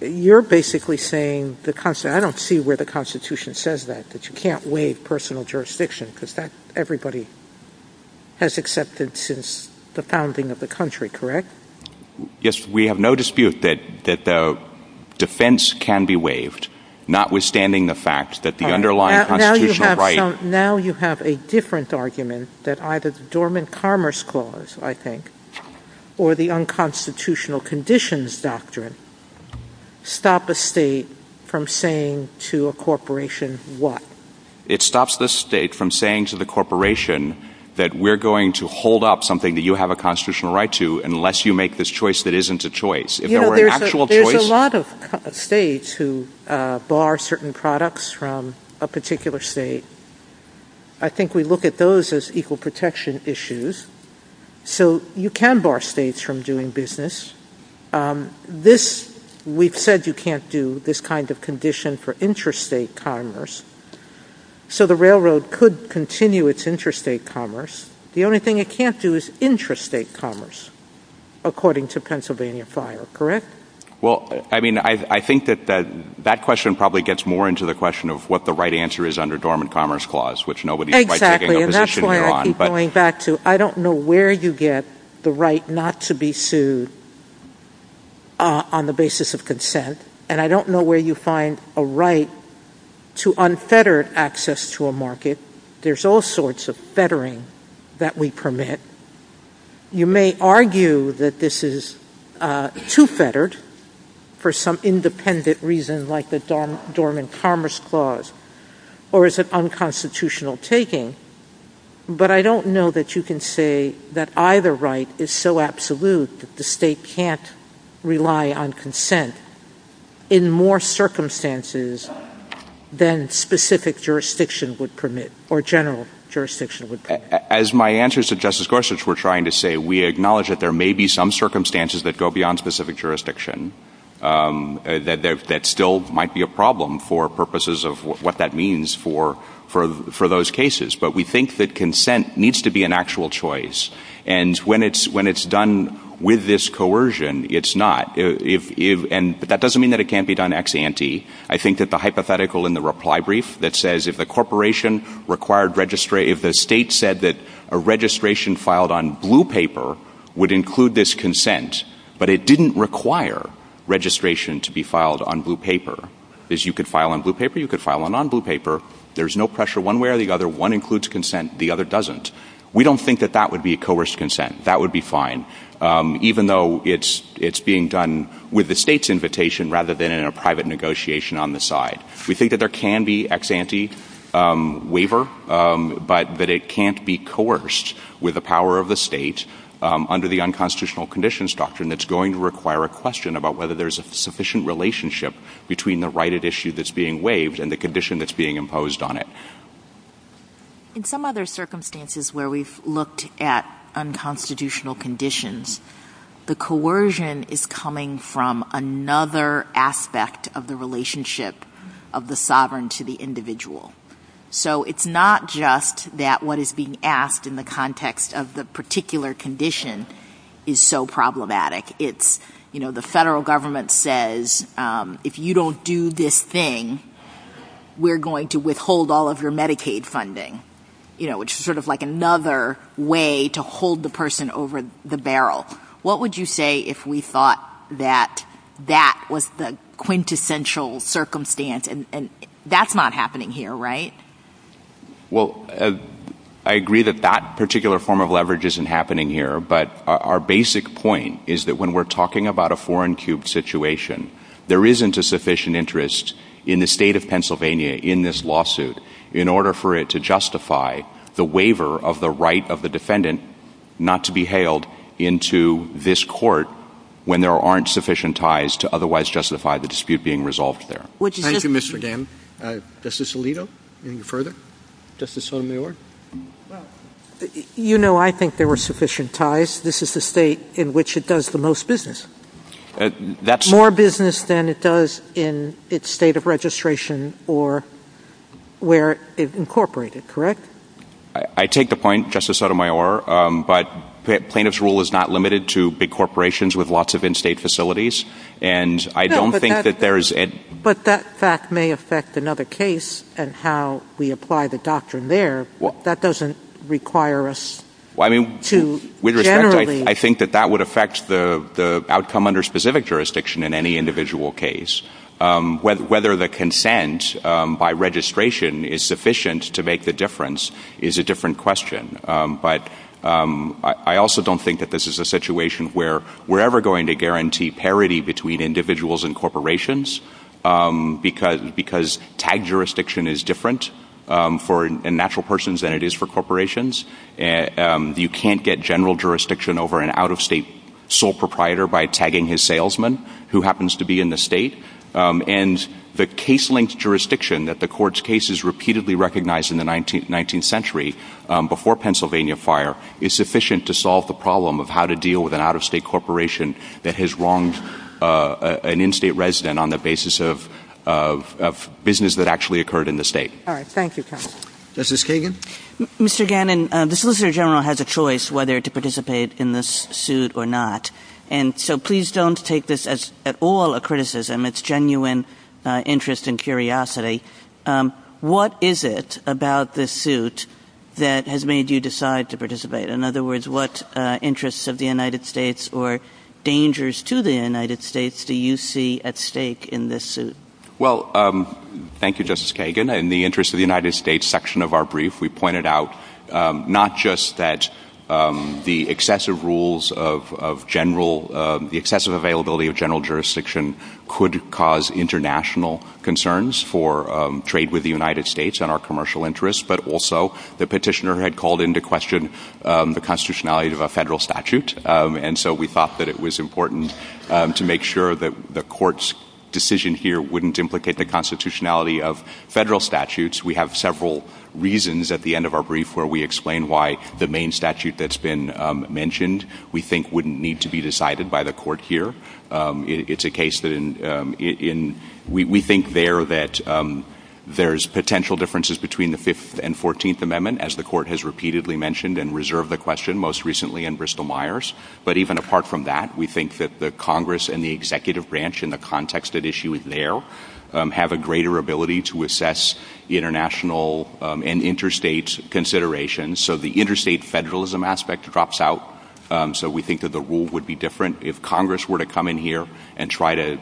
You're basically saying, I don't see where the Constitution says that, that you can't waive personal jurisdiction, because that everybody has accepted since the founding of the country, correct? Yes, we have no dispute that defense can be waived, notwithstanding the fact that the underlying constitutional right... Now you have a different argument that either the Dormant Commerce Clause, I think, or the Unconstitutional Conditions Doctrine stop a state from saying to a corporation what? It stops the state from saying to the corporation that we're going to hold up something that you have a constitutional right to, unless you make this choice that isn't a choice. There's a lot of states who bar certain products from a particular state. I think we look at those as equal protection issues, so you can bar states from doing business. We've said you can't do this kind of condition for interstate commerce, so the railroad could continue its interstate commerce. The only thing it can't do is intrastate commerce, according to Pennsylvania Fire, correct? Well, I mean, I think that that question probably gets more into the question of what the right answer is under Dormant Commerce Clause, which nobody's quite taking a position on. Exactly, and that's why I keep going back to, I don't know where you get the right not to be sued on the basis of consent, and I don't know where you find a right to unfettered access to a market. There's all sorts of fettering that we permit. You may argue that this is too fettered for some independent reason like the Dormant Commerce Clause, or is it unconstitutional taking, but I don't know that you can say that either right is so absolute that the state can't rely on consent in more circumstances than specific jurisdiction would permit, or general jurisdiction would permit. As my answers to Justice Gorsuch were trying to say, we acknowledge that there may be some circumstances that go beyond specific jurisdiction that still might be a problem for purposes of what that means for those cases, but we think that consent needs to be an actual choice, and when it's done with this coercion, it's not, and that doesn't mean that it can't be done ex ante. I think that the hypothetical in the reply brief that says, if the state said that a registration filed on blue paper would include this consent, but it didn't require registration to be filed on blue paper, is you could file on blue paper, you could file on non-blue paper. There's no pressure one way or the other. One includes consent, the other doesn't. We don't think that that would be a coerced consent. That would be fine, even though it's being done with the state's invitation rather than in a private negotiation on the side. We think that there can be ex ante waiver, but that it can't be coerced with the power of the state under the unconstitutional conditions doctrine that's going to require a question about whether there's a sufficient relationship between the right at issue that's being waived and the condition that's being imposed on it. In some other circumstances where we've looked at unconstitutional conditions, the coercion is coming from another aspect of the relationship of the sovereign to the individual. So it's not just that what is being asked in the context of the particular condition is so problematic. It's, you know, the federal government says, if you don't do this thing, we're going to withhold all of your Medicaid funding, you know, which is sort of like another way to hold the person over the barrel. What would you say if we thought that that was the quintessential circumstance, and that's not happening here, right? Well, I agree that that particular form of leverage isn't happening here, but our basic point is that when we're talking about a foreign cube situation, there isn't a sufficient interest in the state of Pennsylvania in this lawsuit in order for it to justify the waiver of the right of the defendant not to be hailed into this court when there aren't sufficient ties to otherwise justify the dispute being resolved there. Thank you, Mr. Dan. Justice Alito, any further? Justice Sotomayor? You know, I think there were sufficient ties. This is the state in which it does the most business. More business than it does in its state of registration or where it's incorporated, correct? I take the point, Justice Sotomayor, but plaintiff's rule is not limited to big corporations with lots of in-state facilities, and I don't think that there is... But that fact may affect another case and how we apply the doctrine there. That doesn't require us to generally... It does not come under specific jurisdiction in any individual case. Whether the consent by registration is sufficient to make the difference is a different question. But I also don't think that this is a situation where we're ever going to guarantee parity between individuals and corporations because tag jurisdiction is different for natural persons than it is for corporations. You can't get general jurisdiction over an out-of-state sole proprietor by tagging his salesman who happens to be in the state. And the case-length jurisdiction that the court's case is repeatedly recognized in the 19th century before Pennsylvania Fire is sufficient to solve the problem of how to deal with an out-of-state corporation that has wronged an in-state resident on the basis of business that actually occurred in the state. All right. Thank you, counsel. Justice Kagan? Mr. Gannon, the Solicitor General has a choice whether to participate in this suit or not. And so please don't take this as at all a criticism. It's genuine interest and curiosity. What is it about this suit that has made you decide to participate? In other words, what interests of the United States or dangers to the United States do you see at stake in this suit? Well, thank you, Justice Kagan. In the interest of the United States section of our brief, we pointed out not just that the excessive availability of general jurisdiction could cause international concerns for trade with the United States and our commercial interests, but also the petitioner had called into question the constitutionality of a federal statute. And so we thought that it was important to make sure that the court's decision here wouldn't implicate the constitutionality of federal statutes. We have several reasons at the end of our brief where we explain why the main statute that's been mentioned we think wouldn't need to be decided by the court here. It's a case that we think there that there's potential differences between the Fifth and Fourteenth Amendment, as the court has repeatedly mentioned and reserved the question most recently in Bristol-Myers. But even apart from that, we think that the Congress and the executive branch in the context at issue there have a greater ability to assess international and interstate considerations. So the interstate federalism aspect drops out. So we think that the rule would be different if Congress were to come in here and try to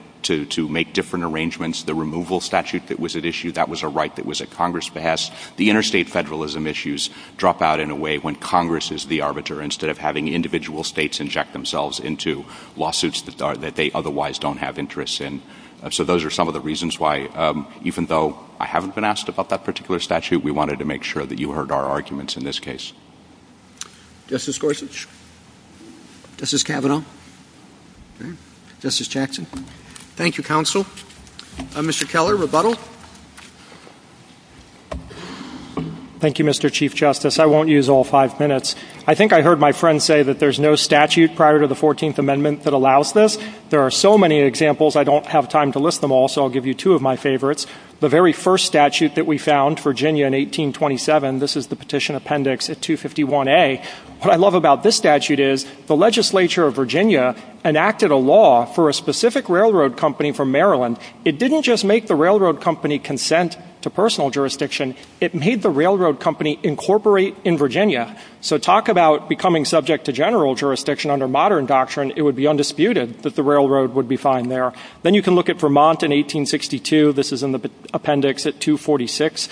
make different arrangements. The removal statute that was at issue, that was a right that was at Congress' behest. The interstate federalism issues drop out in a way when Congress is the arbiter instead of having individual states inject themselves into lawsuits that they otherwise don't have interest in. So those are some of the reasons why, even though I haven't been asked about that particular statute, we wanted to make sure that you heard our arguments in this case. Justice Gorsuch? Justice Kavanaugh? Justice Jackson? Thank you, counsel. Mr. Keller, rebuttal? Thank you, Mr. Chief Justice. I won't use all five minutes. I think I heard my friend say that there's no statute prior to the 14th Amendment that allows this. There are so many examples, I don't have time to list them all, so I'll give you two of my favorites. The very first statute that we found, Virginia in 1827, this is the petition appendix at 251A. What I love about this statute is the legislature of Virginia enacted a law for a specific railroad company from Maryland. It didn't just make the railroad company consent to personal jurisdiction. It made the railroad company incorporate in Virginia. So talk about becoming subject to general jurisdiction under modern doctrine. It would be undisputed that the railroad would be fine there. Then you can look at Vermont in 1862. This is in the appendix at 246A.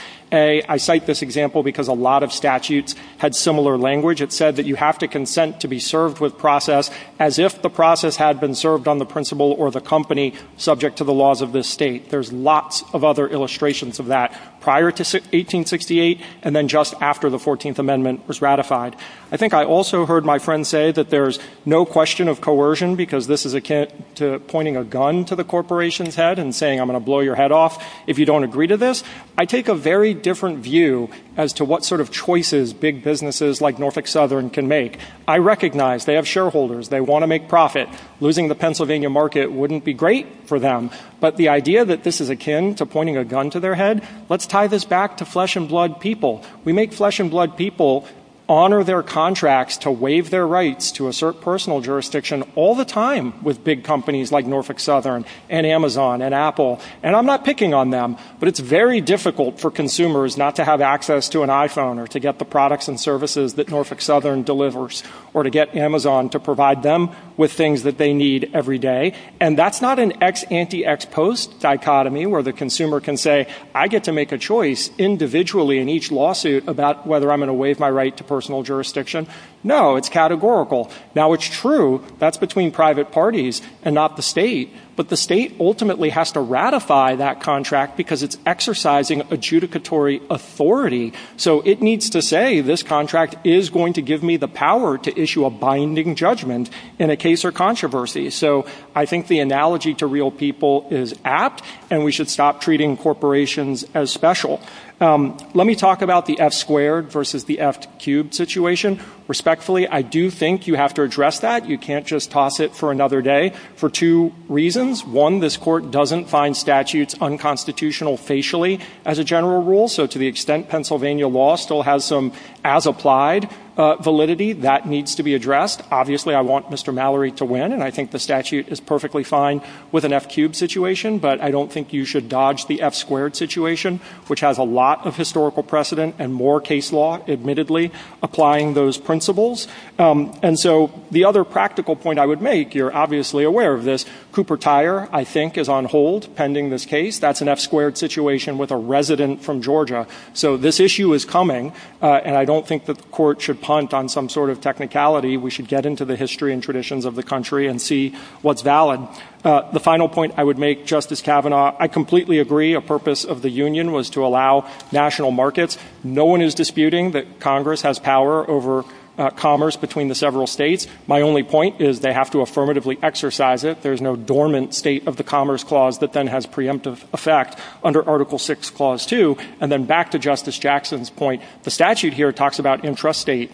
I cite this example because a lot of statutes had similar language. It said that you have to consent to be served with process as if the process had been served on the principal or the company subject to the laws of this state. There's lots of other illustrations of that prior to 1868 and then just after the 14th Amendment was ratified. I think I also heard my friend say that there's no question of coercion because this is akin to pointing a gun to the corporation's head and saying I'm going to blow your head off if you don't agree to this. I take a very different view as to what sort of choices big businesses like Norfolk Southern can make. I recognize they have shareholders. They want to make profit. Losing the Pennsylvania market wouldn't be great for them. But the idea that this is akin to pointing a gun to their head, let's tie this back to flesh and blood people. We make flesh and blood people honor their contracts to waive their rights to assert personal jurisdiction all the time with big companies like Norfolk Southern and Amazon and Apple. I'm not picking on them, but it's very difficult for consumers not to have access to an iPhone or to get the products and services that Norfolk Southern delivers or to get Amazon to provide them with things that they need every day. And that's not an anti-ex-post dichotomy where the consumer can say I get to make a choice individually in each lawsuit about whether I'm going to waive my right to personal jurisdiction. No, it's categorical. Now it's true that's between private parties and not the state, but the state ultimately has to ratify that contract because it's exercising adjudicatory authority. So it needs to say this contract is going to give me the power to issue a binding judgment in a case or controversy. So I think the analogy to real people is apt, and we should stop treating corporations as special. Let me talk about the F-squared versus the F-cubed situation. Respectfully, I do think you have to address that. You can't just toss it for another day for two reasons. One, this court doesn't find statutes unconstitutional facially as a general rule. So to the extent Pennsylvania law still has some as-applied validity, that needs to be addressed. Obviously, I want Mr. Mallory to win, and I think the statute is perfectly fine with an F-cubed situation, but I don't think you should dodge the F-squared situation, which has a lot of historical precedent and more case law, admittedly, applying those principles. And so the other practical point I would make, you're obviously aware of this, Cooper Tire, I think, is on hold pending this case. That's an F-squared situation with a resident from Georgia. So this issue is coming, and I don't think the court should punt on some sort of technicality. We should get into the history and traditions of the country and see what's valid. The final point I would make, Justice Kavanaugh, I completely agree a purpose of the union was to allow national markets. No one is disputing that Congress has power over commerce between the several states. My only point is they have to affirmatively exercise it. There's no dormant state of the Commerce Clause that then has preemptive effect under Article VI, Clause 2. And then back to Justice Jackson's point, the statute here talks about intrastate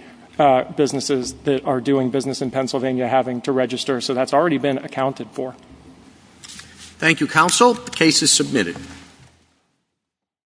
businesses that are doing business in Pennsylvania having to register. So that's already been accounted for. Thank you, counsel. The case is submitted.